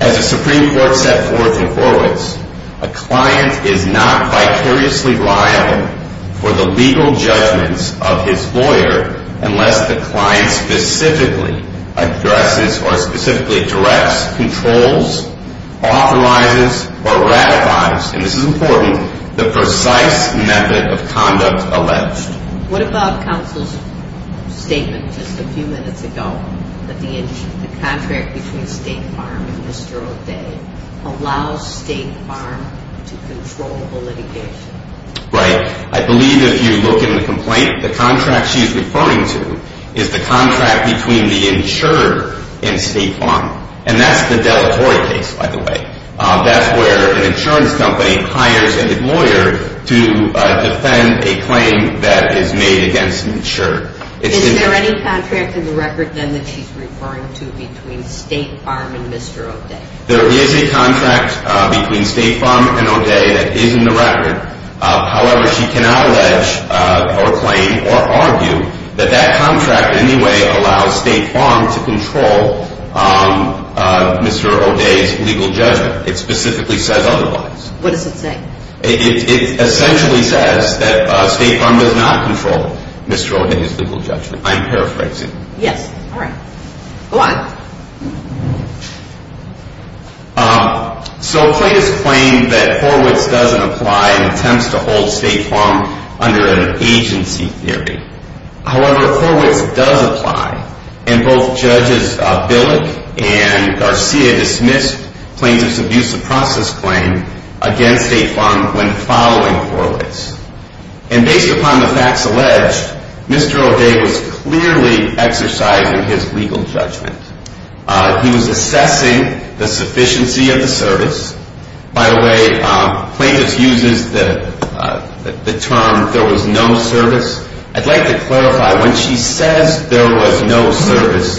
As the Supreme Court set forth and forwards, a client is not vicariously liable for the legal judgments of his lawyer unless the client specifically addresses or specifically directs, controls, authorizes, or ratifies, and this is important, the precise method of conduct alleged. What about counsel's statement just a few minutes ago that the contract between State Farm and Mr. O'Day allows State Farm to control the litigation? Right. I believe if you look in the complaint, the contract she's referring to is the contract between the insurer and State Farm. And that's the deletory case, by the way. That's where an insurance company hires a lawyer to defend a claim that is made against an insurer. Is there any contract in the record then that she's referring to between State Farm and Mr. O'Day? There is a contract between State Farm and O'Day that is in the record. However, she cannot allege or claim or argue that that contract in any way allows State Farm to control Mr. O'Day's legal judgment. It specifically says otherwise. What does it say? It essentially says that State Farm does not control Mr. O'Day's legal judgment. I'm paraphrasing. Yes. All right. Go on. So plaintiffs claim that Horwitz doesn't apply and attempts to hold State Farm under an agency theory. However, Horwitz does apply. And both Judges Billick and Garcia dismissed plaintiffs' abuse of process claim against State Farm when following Horwitz. And based upon the facts alleged, Mr. O'Day was clearly exercising his legal judgment. He was assessing the sufficiency of the service. By the way, plaintiffs use the term there was no service. I'd like to clarify, when she says there was no service,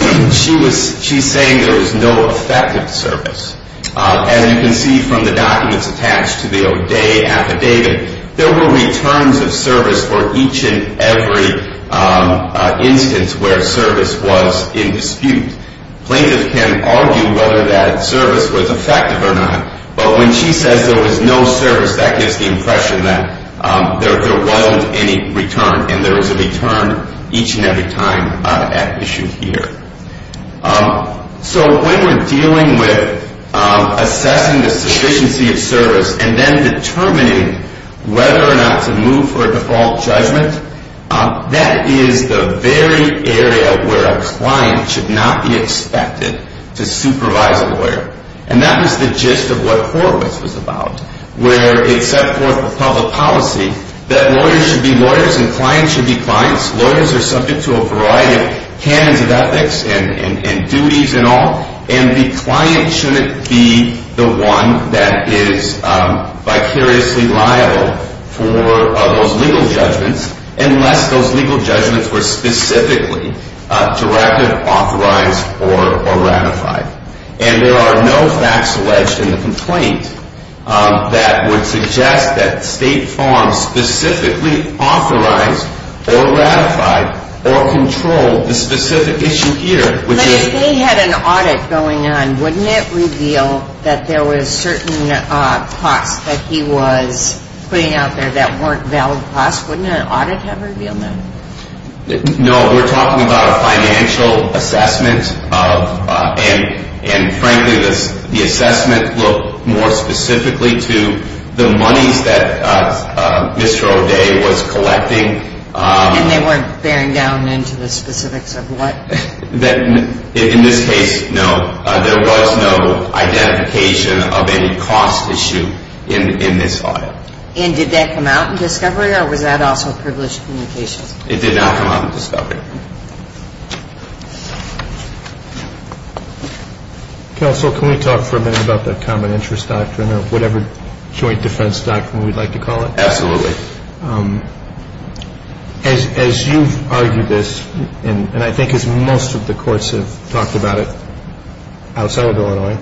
she's saying there was no effective service. As you can see from the documents attached to the O'Day affidavit, there were returns of service for each and every instance where service was in dispute. Plaintiffs can argue whether that service was effective or not. But when she says there was no service, that gives the impression that there was no return. And there is a return each and every time at issue here. So when we're dealing with assessing the sufficiency of service and then determining whether or not to move for a default judgment, that is the very area where a client should not be expected to supervise a lawyer. And that was the gist of what Horwitz was about, where it set forth the public policy that lawyers should be lawyers and clients should be clients. Lawyers are subject to a variety of canons of ethics and duties and all, and the client shouldn't be the one that is vicariously liable for those legal judgments unless those legal judgments were specifically directed, authorized, or ratified. And there are no facts alleged in the complaint that would suggest that State Farm specifically authorized or ratified or controlled the specific issue here. But if they had an audit going on, wouldn't it reveal that there were certain costs that he was putting out there that weren't valid costs? Wouldn't an audit have revealed that? No, we're talking about a financial assessment, and frankly, the assessment looked more specifically to the monies that Mr. O'Day was collecting. And they weren't bearing down into the specifics of what? In this case, no. There was no identification of any cost issue in this audit. And did that come out in discovery, or was that also privileged communications? It did not come out in discovery. Counsel, can we talk for a minute about the common interest doctrine or whatever joint defense doctrine we'd like to call it? Absolutely. As you've argued this, and I think as most of the courts have talked about it outside of Illinois,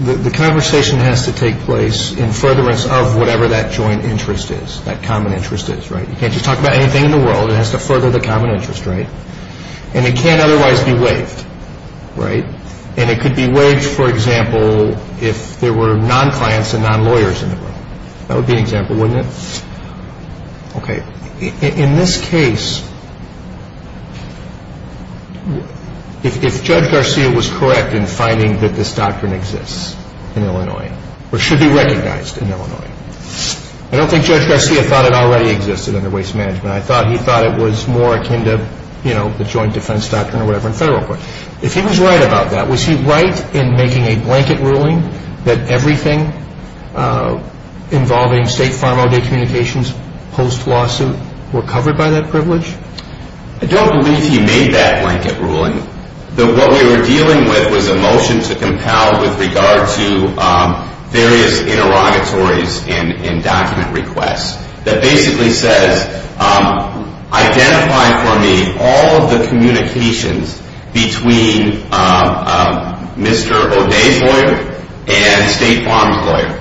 the conversation has to take place in furtherance of whatever that joint interest is, that common interest is, right? You can't just talk about anything in the world. It has to further the common interest, right? And it can't otherwise be waived, right? And it could be waived, for example, if there were non-clients and non-lawyers in the room. That would be an example, wouldn't it? Okay. In this case, if Judge Garcia was correct in finding that this doctrine exists in Illinois, or should be recognized in Illinois, I don't think Judge Garcia thought it already existed under Waste Management. I thought he thought it was more akin to, you know, the joint defense doctrine or whatever in federal court. If he was right about that, was he right in making a blanket ruling that everything involving State Farm-All-Day Communications post-lawsuit were covered by that privilege? I don't believe he made that blanket ruling. What we were dealing with was a motion to compel with regard to various interrogatories and document requests that basically says, identify for me all of the communications between Mr. O'Day's lawyer and State Farm's lawyer.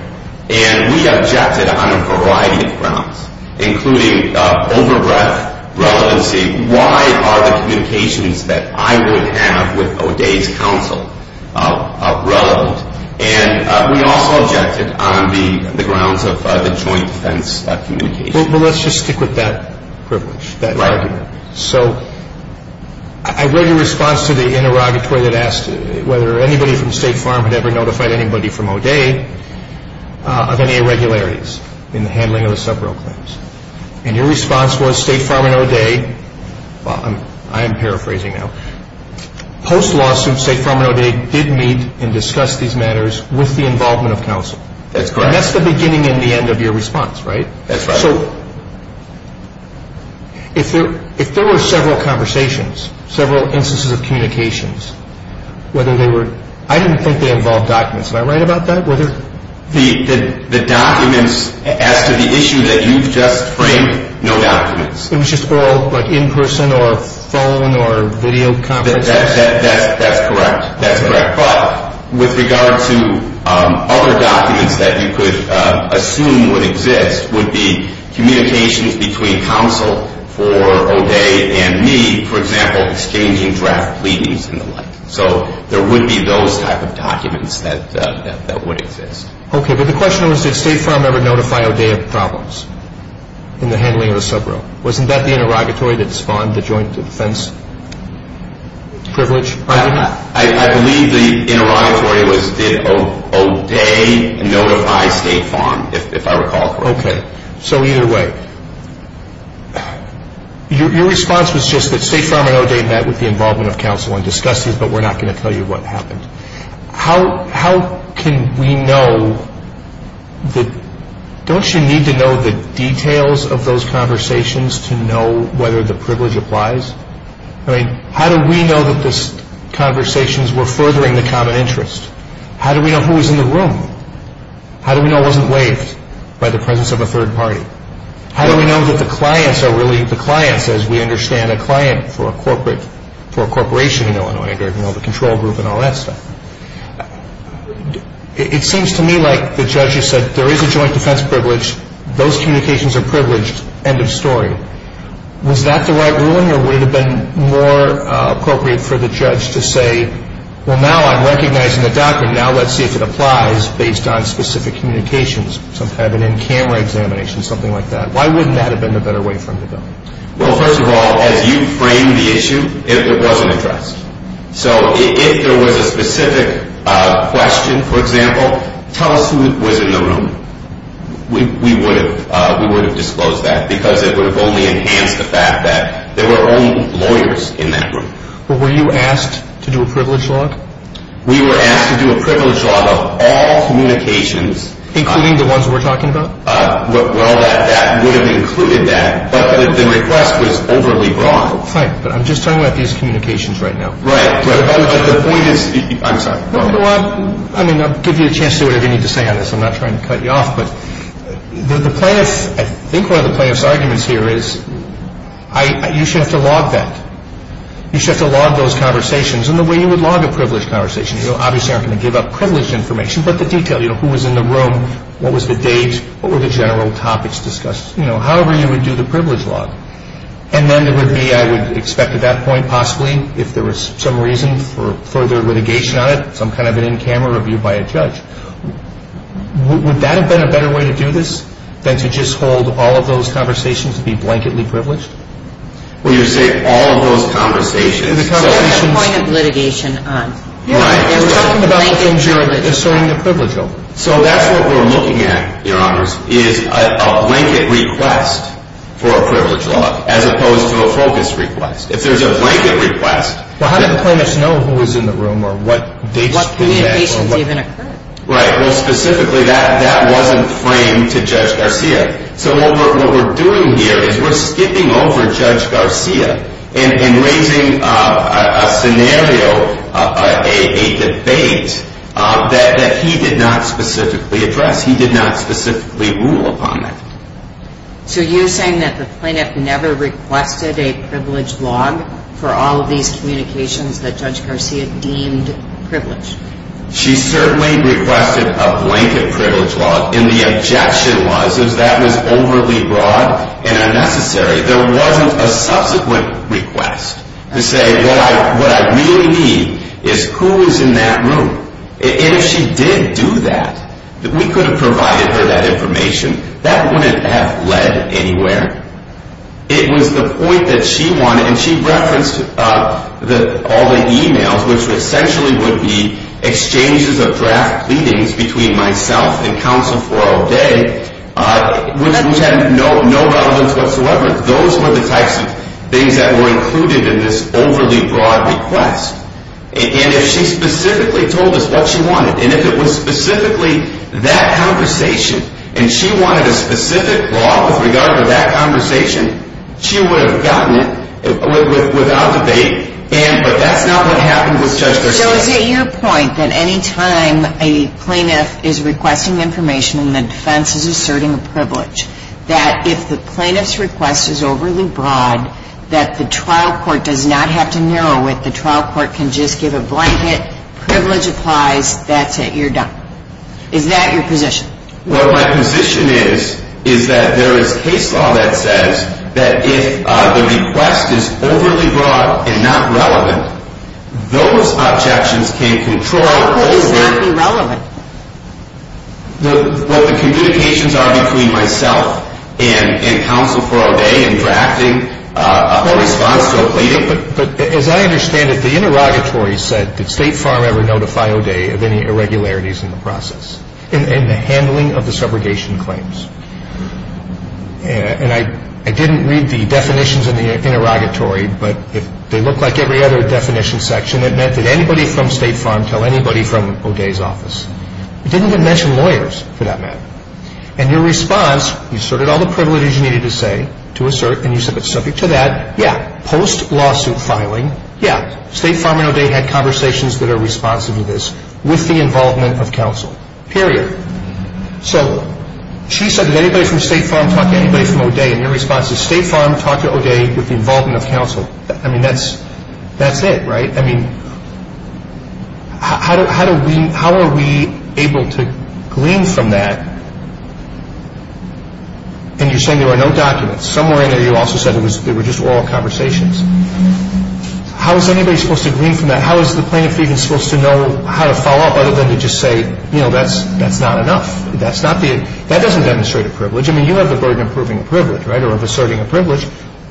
And we objected on a variety of grounds, including over-breath, relevancy, why are the communications that I would have with O'Day's counsel relevant? And we also objected on the grounds of the joint defense communication. Well, let's just stick with that privilege, that argument. Right. So I read your response to the interrogatory that asked whether anybody from State Farm had ever notified anybody from O'Day of any irregularities in the handling of the sub-bill claims. And your response was State Farm and O'Day, I am paraphrasing now, post-lawsuit, State Farm and O'Day did meet and discuss these matters with the involvement of counsel. That's correct. And that's the beginning and the end of your response, right? That's right. So if there were several conversations, several instances of communications, whether they were, I didn't think they involved documents. Am I right about that? The documents as to the issue that you've just framed, no documents. It was just all like in person or phone or video conference? That's correct. That's correct. But with regard to other documents that you could assume would exist would be communications between counsel for O'Day and me, for example, exchanging draft pleadings and the like. So there would be those type of documents that would exist. Okay, but the question was did State Farm ever notify O'Day of problems in the handling of the sub-bill? Wasn't that the interrogatory that spawned the joint defense privilege? I believe the interrogatory was did O'Day notify State Farm, if I recall correctly. Okay, so either way, your response was just that State Farm and O'Day met with the involvement of counsel and discussed these, but we're not going to tell you what happened. How can we know that, don't you need to know the details of those conversations to know whether the privilege applies? I mean, how do we know that these conversations were furthering the common interest? How do we know who was in the room? How do we know it wasn't waived by the presence of a third party? How do we know that the clients are really the clients as we understand a client for a corporate, for a corporation in Illinois, the control group and all that stuff? It seems to me like the judge has said there is a joint defense privilege, those communications are privileged, end of story. Was that the right ruling or would it have been more appropriate for the judge to say, well, now I'm recognizing the document, now let's see if it applies based on specific communications, some kind of an in-camera examination, something like that. Why wouldn't that have been a better way for him to go? Well, first of all, as you framed the issue, it wasn't addressed. So if there was a specific question, for example, tell us who was in the room. We would have disclosed that because it would have only enhanced the fact that there were only lawyers in that room. Were you asked to do a privilege log? We were asked to do a privilege log of all communications. Including the ones we're talking about? Well, that would have included that, but the request was overly broad. Fine, but I'm just talking about these communications right now. Right, but the point is, I'm sorry. Well, I mean, I'll give you a chance to say whatever you need to say on this. I'm not trying to cut you off, but the plaintiff, I think one of the plaintiff's arguments here is you should have to log that. You should have to log those conversations. And the way you would log a privileged conversation, you obviously aren't going to give up privileged information, but the detail. Who was in the room? What was the date? What were the general topics discussed? However you would do the privilege log. And then there would be, I would expect at that point possibly, if there was some reason for further litigation on it, some kind of an in-camera review by a judge. Would that have been a better way to do this than to just hold all of those conversations to be blanketly privileged? Well, you're saying all of those conversations. The point of litigation. You're talking about ensuring the privilege of it. So that's what we're looking at, Your Honors, is a blanket request for a privilege log as opposed to a focus request. If there's a blanket request. Well, how did the plaintiff know who was in the room or what dates to that? What date basis even occurred? Right. Well, specifically that wasn't framed to Judge Garcia. So what we're doing here is we're skipping over Judge Garcia and raising a scenario, a debate, that he did not specifically address. He did not specifically rule upon that. So you're saying that the plaintiff never requested a privilege log for all of these communications that Judge Garcia deemed privileged? She certainly requested a blanket privilege log. And the objection was is that was overly broad and unnecessary. There wasn't a subsequent request to say what I really need is who is in that room. And if she did do that, we could have provided her that information. That wouldn't have led anywhere. It was the point that she wanted. And she referenced all the e-mails, which essentially would be exchanges of draft pleadings between myself and counsel for all day, which had no relevance whatsoever. Those were the types of things that were included in this overly broad request. And if she specifically told us what she wanted, and if it was specifically that conversation, and she wanted a specific law with regard to that conversation, she would have gotten it without debate. But that's not what happened with Judge Garcia. So is it your point that any time a plaintiff is requesting information and the defense is asserting a privilege, that if the plaintiff's request is overly broad, that the trial court does not have to narrow it? The trial court can just give a blanket, privilege applies, that's it, you're done? Is that your position? Well, my position is, is that there is case law that says that if the request is overly broad and not relevant, those objections can control what the communications are between myself and counsel for all day and drafting a response to a pleading. But as I understand it, the interrogatory said, did State Farm ever notify all day of any irregularities in the process? In the handling of the subrogation claims. And I didn't read the definitions in the interrogatory, but they look like every other definition section. It meant that anybody from State Farm tell anybody from O'Day's office. It didn't even mention lawyers for that matter. And your response, you asserted all the privileges you needed to say, to assert, and you said it's subject to that. Yeah, post-lawsuit filing, yeah, State Farm and O'Day had conversations that are responsive to this, with the involvement of counsel, period. So she said, did anybody from State Farm talk to anybody from O'Day? And your response is, State Farm talked to O'Day with the involvement of counsel. I mean, that's it, right? I mean, how are we able to glean from that? And you're saying there were no documents. Somewhere in there you also said there were just oral conversations. How is anybody supposed to glean from that? How is the plaintiff even supposed to know how to follow up other than to just say, you know, that's not enough? That doesn't demonstrate a privilege. I mean, you have the burden of proving a privilege, right, or of asserting a privilege.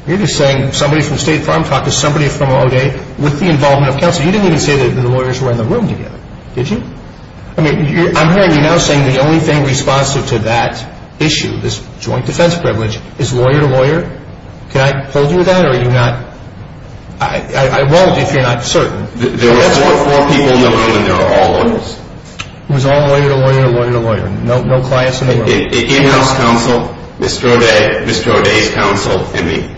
You're just saying somebody from State Farm talked to somebody from O'Day with the involvement of counsel. You didn't even say that the lawyers were in the room together, did you? I mean, I'm hearing you now saying the only thing responsive to that issue, this joint defense privilege, is lawyer to lawyer. Can I hold you to that, or are you not? I won't if you're not certain. There were four people in the room, and they were all lawyers. It was all lawyer to lawyer, lawyer to lawyer. No clients in the room. In-house counsel, Mr. O'Day, Mr. O'Day's counsel, and me.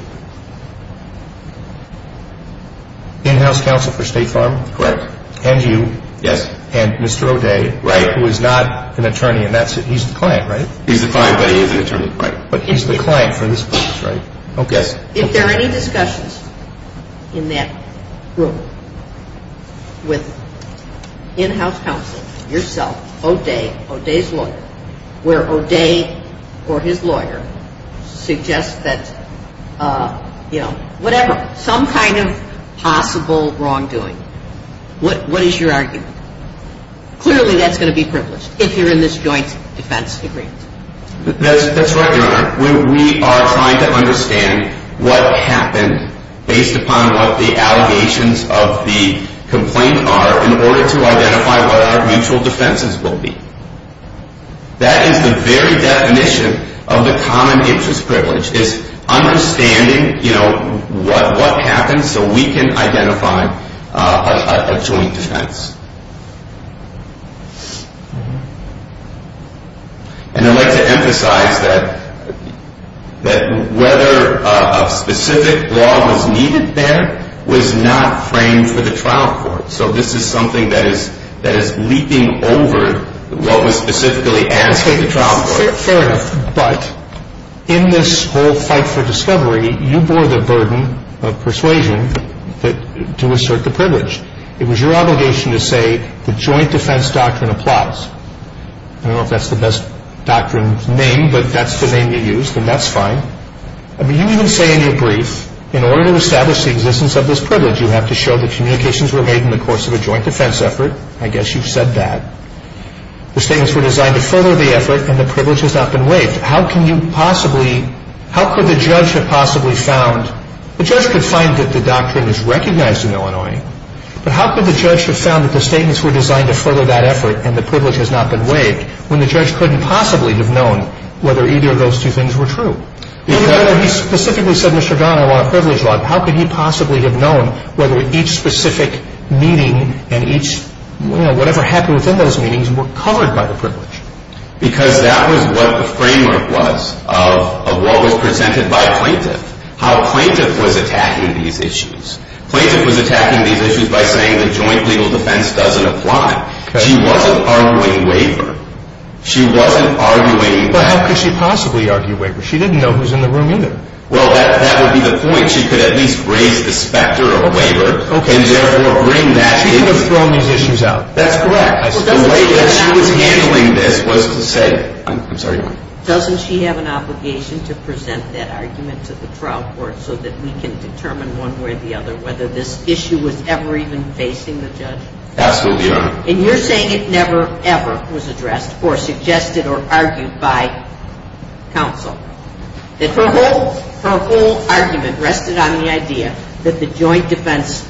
In-house counsel for State Farm? Correct. And you. Yes. And Mr. O'Day. Right. Who is not an attorney, and he's the client, right? He's the client, but he is an attorney. Right. But he's the client for this case, right? Yes. Okay. Are there any discussions in that room with in-house counsel, yourself, O'Day, O'Day's lawyer, where O'Day or his lawyer suggests that, you know, whatever, some kind of possible wrongdoing. What is your argument? Clearly that's going to be privileged if you're in this joint defense agreement. That's right, Your Honor. We are trying to understand what happened based upon what the allegations of the complaint are in order to identify what our mutual defenses will be. That is the very definition of the common interest privilege, is understanding, you know, what happens so we can identify a joint defense. And I'd like to emphasize that whether a specific law was needed there was not framed for the trial court. So this is something that is leaping over what was specifically asked of the trial court. Fair enough. But in this whole fight for discovery, you bore the burden of persuasion to assert the privilege. It was your obligation to say the joint defense doctrine applies. I don't know if that's the best doctrine name, but that's the name you used, and that's fine. I mean, you even say in your brief, in order to establish the existence of this privilege, you have to show that communications were made in the course of a joint defense effort. I guess you've said that. The statements were designed to further the effort, and the privilege has not been waived. How can you possibly, how could the judge have possibly found, The judge could find that the doctrine is recognized in Illinois, but how could the judge have found that the statements were designed to further that effort, and the privilege has not been waived, when the judge couldn't possibly have known whether either of those two things were true? Even though he specifically said, Mr. Don, I want a privilege law, how could he possibly have known whether each specific meeting and each, you know, whatever happened within those meetings were covered by the privilege? Because that was what the framework was of what was presented by a plaintiff. How a plaintiff was attacking these issues. Plaintiff was attacking these issues by saying the joint legal defense doesn't apply. She wasn't arguing waiver. She wasn't arguing that. But how could she possibly argue waiver? She didn't know who was in the room either. Well, that would be the point. She could at least raise the specter of waiver, and therefore bring that issue. She could have thrown these issues out. That's correct. The way that she was handling this was to say, I'm sorry. Doesn't she have an obligation to present that argument to the trial court so that we can determine one way or the other whether this issue was ever even facing the judge? Absolutely not. And you're saying it never, ever was addressed or suggested or argued by counsel. Her whole argument rested on the idea that the joint defense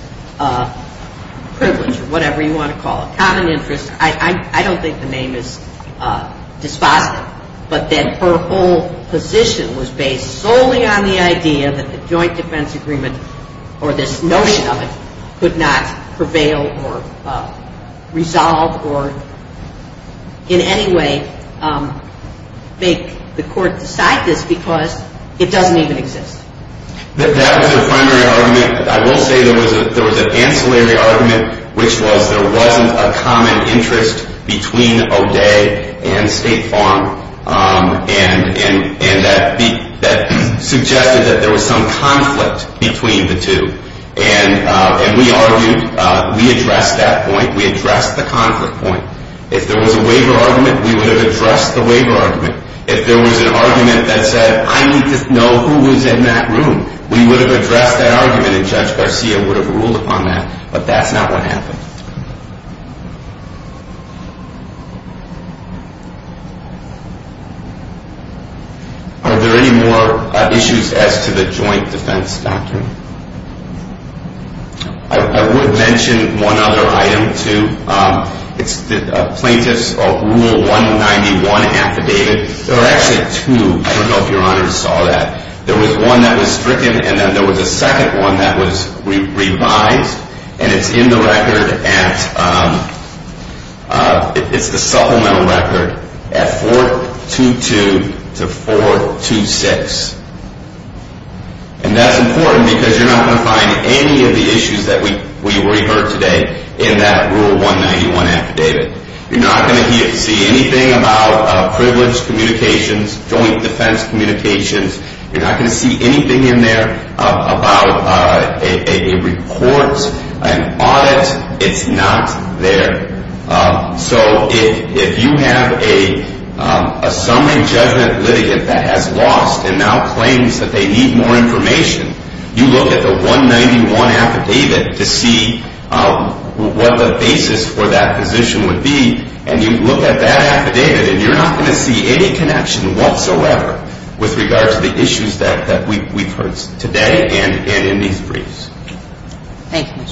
privilege, or whatever you want to call it, common interest, I don't think the name is dispositive, but that her whole position was based solely on the idea that the joint defense agreement or this notion of it could not prevail or resolve or in any way make the court decide this because it doesn't even exist. That was her primary argument. I will say there was an ancillary argument, which was there wasn't a common interest between O'Day and State Farm, and that suggested that there was some conflict between the two. And we argued. We addressed that point. We addressed the conflict point. If there was a waiver argument, we would have addressed the waiver argument. If there was an argument that said, I need to know who was in that room, we would have addressed that argument, and Judge Garcia would have ruled upon that. But that's not what happened. Are there any more issues as to the joint defense doctrine? I would mention one other item, too. It's the plaintiff's rule 191 affidavit. There are actually two. I don't know if Your Honor saw that. There was one that was stricken, and then there was a second one that was revised, and it's in the record at the supplemental record at 422 to 426. And that's important because you're not going to find any of the issues that we heard today in that rule 191 affidavit. You're not going to see anything about privilege communications, joint defense communications. You're not going to see anything in there about a report, an audit. It's not there. So if you have a summary judgment litigant that has lost and now claims that they need more information, you look at the 191 affidavit to see what the basis for that position would be, and you look at that affidavit, and you're not going to see any connection whatsoever with regard to the issues that we've heard today and in these briefs. Thank you.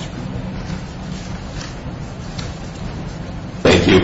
Thank you.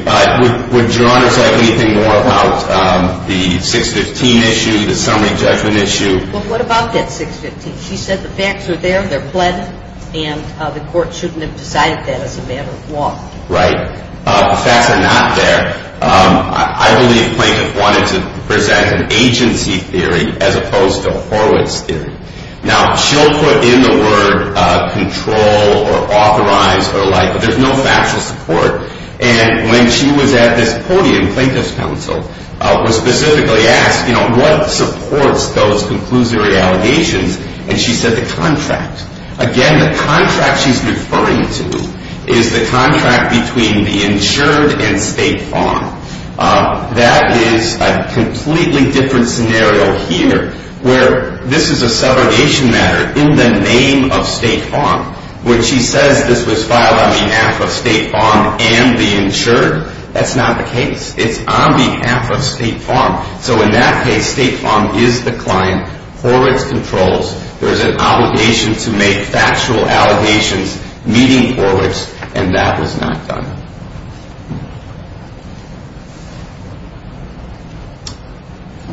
Would Your Honor say anything more about the 615 issue, the summary judgment issue? Well, what about that 615? She said the facts are there, they're pledged, and the court shouldn't have decided that as a matter of law. Right. The facts are not there. I believe Plaintiff wanted to present an agency theory as opposed to Horowitz theory. Now, she'll put in the word control or authorize or like, but there's no factual support. And when she was at this podium, Plaintiff's counsel was specifically asked, you know, what supports those conclusory allegations? And she said the contract. Again, the contract she's referring to is the contract between the insured and State Farm. That is a completely different scenario here where this is a segregation matter in the name of State Farm, which she says this was filed on behalf of State Farm and the insured. That's not the case. It's on behalf of State Farm. So in that case, State Farm is the client. Horowitz controls. There's an obligation to make factual allegations meeting Horowitz, and that was not done.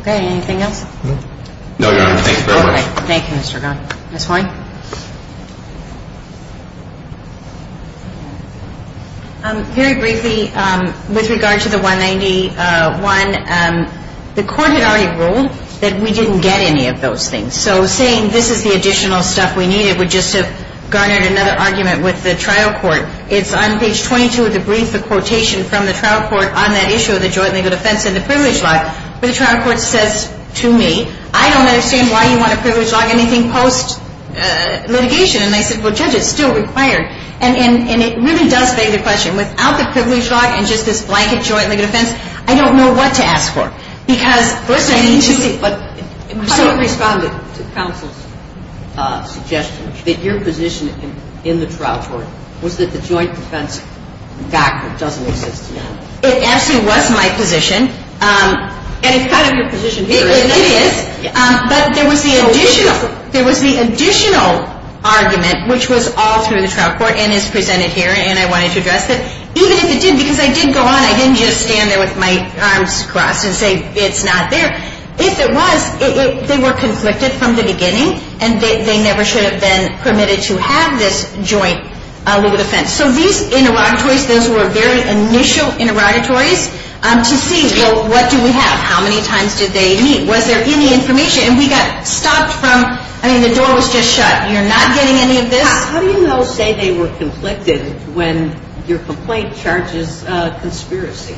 Okay. Anything else? No, Your Honor. Thanks very much. Okay. Thank you, Mr. Gunn. Ms. Hoy? Very briefly, with regard to the 191, the court had already ruled that we didn't get any of those things. So saying this is the additional stuff we needed would just have garnered another argument with the trial court. It's on page 22 of the brief, the quotation from the trial court on that issue of the joint legal defense and the privilege law, where the trial court says to me, I don't understand why you want a privilege law, anything post-litigation. And I said, well, Judge, it's still required. And it really does beg the question. Without the privilege law and just this blanket joint legal defense, I don't know what to ask for. Because first I need to see. But you responded to counsel's suggestion that your position in the trial court was that the joint defense document doesn't exist. It actually was my position. And it's kind of your position here. It is. But there was the additional argument, which was all through the trial court and is presented here, and I wanted to address it. Even if it didn't, because I did go on. I didn't just stand there with my arms crossed and say it's not there. If it was, they were conflicted from the beginning, and they never should have been permitted to have this joint legal defense. So these interrogatories, those were very initial interrogatories to see, well, what do we have? How many times did they meet? Was there any information? And we got stopped from, I mean, the door was just shut. You're not getting any of this. How do you know, say, they were conflicted when your complaint charges conspiracy?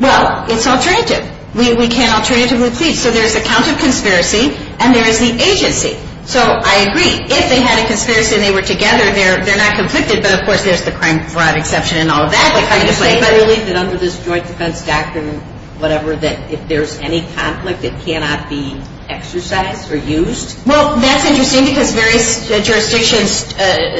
Well, it's alternative. We can't alternatively plead. So there's a count of conspiracy, and there is the agency. So I agree. If they had a conspiracy and they were together, they're not conflicted. But, of course, there's the crime fraud exception and all of that. I believe that under this joint defense doctrine, whatever, that if there's any conflict, it cannot be exercised or used. Well, that's interesting because various jurisdictions,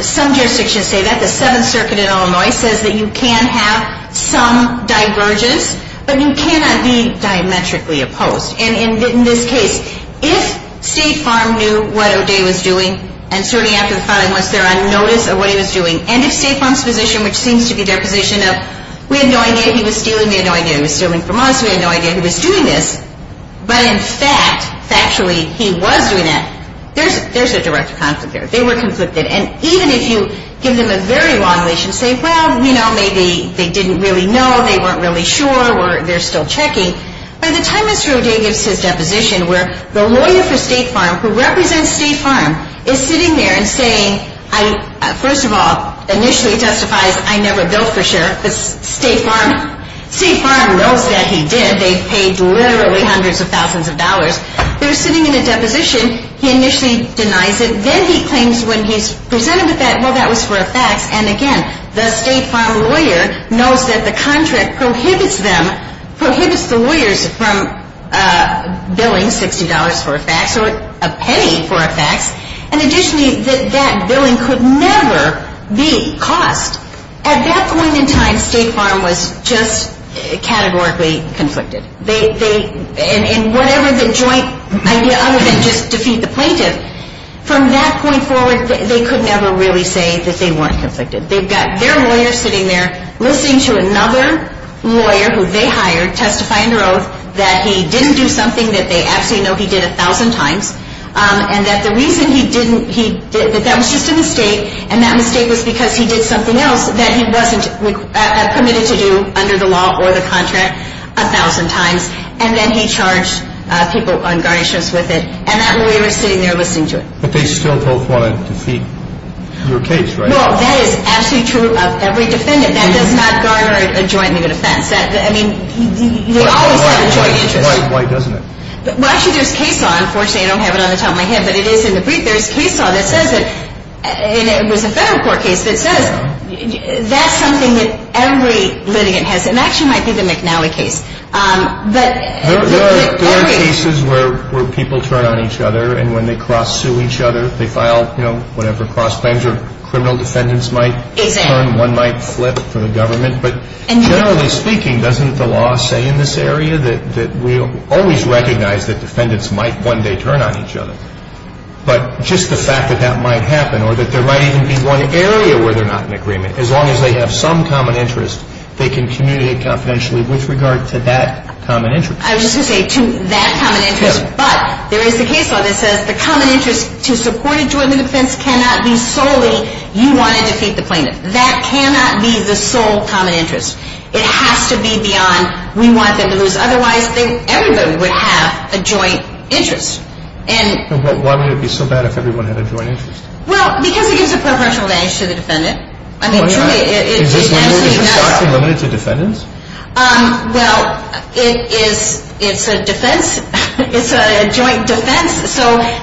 some jurisdictions say that. The Seventh Circuit in Illinois says that you can have some divergence, but you cannot be diametrically opposed. And in this case, if State Farm knew what O'Day was doing, and certainly after the filing was there on notice of what he was doing, and if State Farm's position, which seems to be their position of, we had no idea he was stealing, we had no idea he was stealing from us, we had no idea he was doing this, but in fact, factually, he was doing that, there's a direct conflict there. They were conflicted. And even if you give them a very long leash and say, well, you know, maybe they didn't really know, they weren't really sure, or they're still checking, by the time Mr. O'Day gives his deposition where the lawyer for State Farm, who represents State Farm, is sitting there and saying, first of all, initially testifies, I never built for sure, but State Farm knows that he did. They paid literally hundreds of thousands of dollars. They're sitting in a deposition. He initially denies it. Then he claims when he's presented with that, well, that was for a fax. And again, the State Farm lawyer knows that the contract prohibits them, prohibits the lawyers from billing $60 for a fax or a penny for a fax, and additionally, that that billing could never be cost. At that point in time, State Farm was just categorically conflicted. And whatever the joint idea, other than just defeat the plaintiff, from that point forward, they could never really say that they weren't conflicted. They've got their lawyer sitting there listening to another lawyer, who they hired, testify under oath that he didn't do something that they actually know he did a thousand times and that the reason he didn't, that that was just a mistake, and that mistake was because he did something else that he wasn't permitted to do under the law or the contract a thousand times. And then he charged people on garnishments with it. And that lawyer is sitting there listening to it. But they still both want to defeat your case, right? Well, that is absolutely true of every defendant. That does not garner a joint legal defense. I mean, they always have a joint interest. Why doesn't it? Well, actually, there's a case law. Unfortunately, I don't have it on the top of my head, but it is in the brief. There's a case law that says that, and it was a federal court case, that says that's something that every litigant has. It actually might be the McNally case. There are cases where people turn on each other, and when they cross-sue each other, they file, you know, whatever, cross-bends, or criminal defendants might turn. One might flip for the government. But generally speaking, doesn't the law say in this area that we always recognize that defendants might one day turn on each other? But just the fact that that might happen or that there might even be one area where they're not in agreement, as long as they have some common interest, they can communicate confidentially with regard to that common interest. I was just going to say to that common interest. But there is a case law that says the common interest to support a joint defense cannot be solely you want to defeat the plaintiff. That cannot be the sole common interest. It has to be beyond we want them to lose. Otherwise, everybody would have a joint interest. And why would it be so bad if everyone had a joint interest? Well, because it gives a proportional advantage to the defendant. I mean, truly, it absolutely does. Is this one more precisely limited to defendants? Well, it is a defense. It's a joint defense.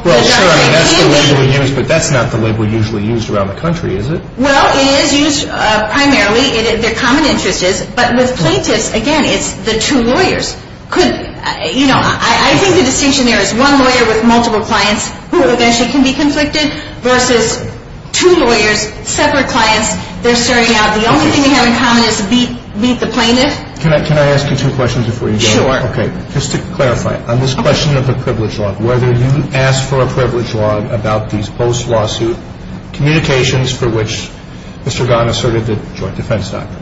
Well, sure, that's the label we use, but that's not the label usually used around the country, is it? Well, it is used primarily. Their common interest is. But with plaintiffs, again, it's the two lawyers. I think the distinction there is one lawyer with multiple clients who eventually can be conflicted versus two lawyers, separate clients. They're starting out. The only thing they have in common is to beat the plaintiff. Can I ask you two questions before you go? Sure. Okay. Just to clarify, on this question of the privilege log, whether you asked for a privilege log about these post-lawsuit communications for which Mr. Gahan asserted the joint defense doctrine.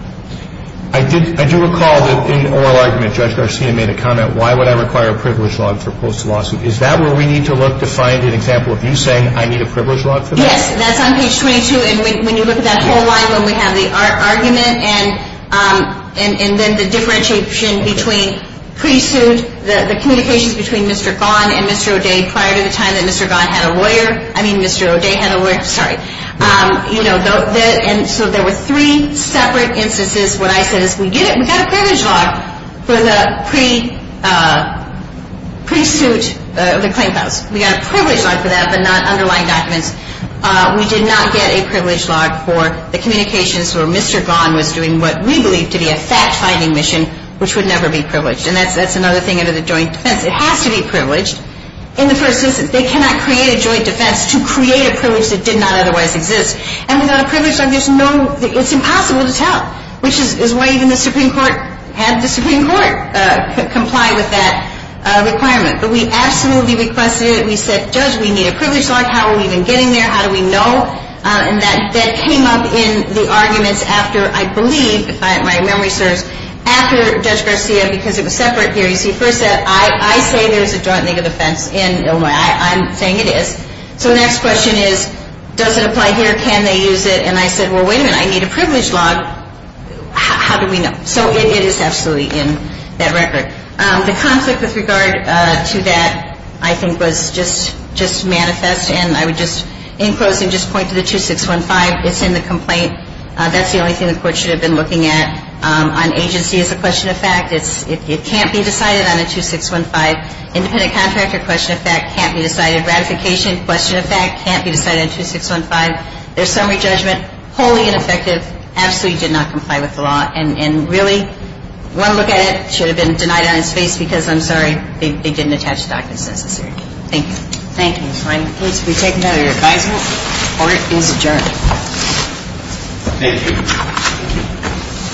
I do recall that in oral argument, Judge Garcia made a comment, why would I require a privilege log for post-lawsuit? Is that where we need to look to find an example of you saying, I need a privilege log for that? Yes. That's on page 22. And when you look at that whole line where we have the argument and then the differentiation between pre-suit, the communications between Mr. Gahan and Mr. O'Day prior to the time that Mr. Gahan had a lawyer. I mean Mr. O'Day had a lawyer. Sorry. You know, so there were three separate instances. What I said is we did it. We got a privilege log for the pre-suit, the claim files. We got a privilege log for that but not underlying documents. We did not get a privilege log for the communications where Mr. Gahan was doing what we believe to be a fact-finding mission, which would never be privileged. And that's another thing under the joint defense. It has to be privileged in the first instance. They cannot create a joint defense to create a privilege that did not otherwise exist. And without a privilege log, there's no, it's impossible to tell, which is why even the Supreme Court had the Supreme Court comply with that requirement. But we absolutely requested it. We said, Judge, we need a privilege log. How are we even getting there? How do we know? And that came up in the arguments after, I believe, if my memory serves, after Judge Garcia, because it was separate here. You see, first I say there's a joint legal defense in Illinois. I'm saying it is. So the next question is, does it apply here? Can they use it? And I said, well, wait a minute. I need a privilege log. How do we know? So it is absolutely in that record. The conflict with regard to that, I think, was just manifest. And I would just, in closing, just point to the 2615. It's in the complaint. That's the only thing the Court should have been looking at. On agency is a question of fact. It can't be decided on a 2615. Independent contractor, question of fact, can't be decided. Ratification, question of fact, can't be decided on 2615. Their summary judgment, wholly ineffective, absolutely did not comply with the law. And really, one look at it, it should have been denied on its face because, I'm sorry, they didn't attach that as necessary. Thank you. Thank you. I'm pleased to be taken under your advisement. Court is adjourned. Thank you.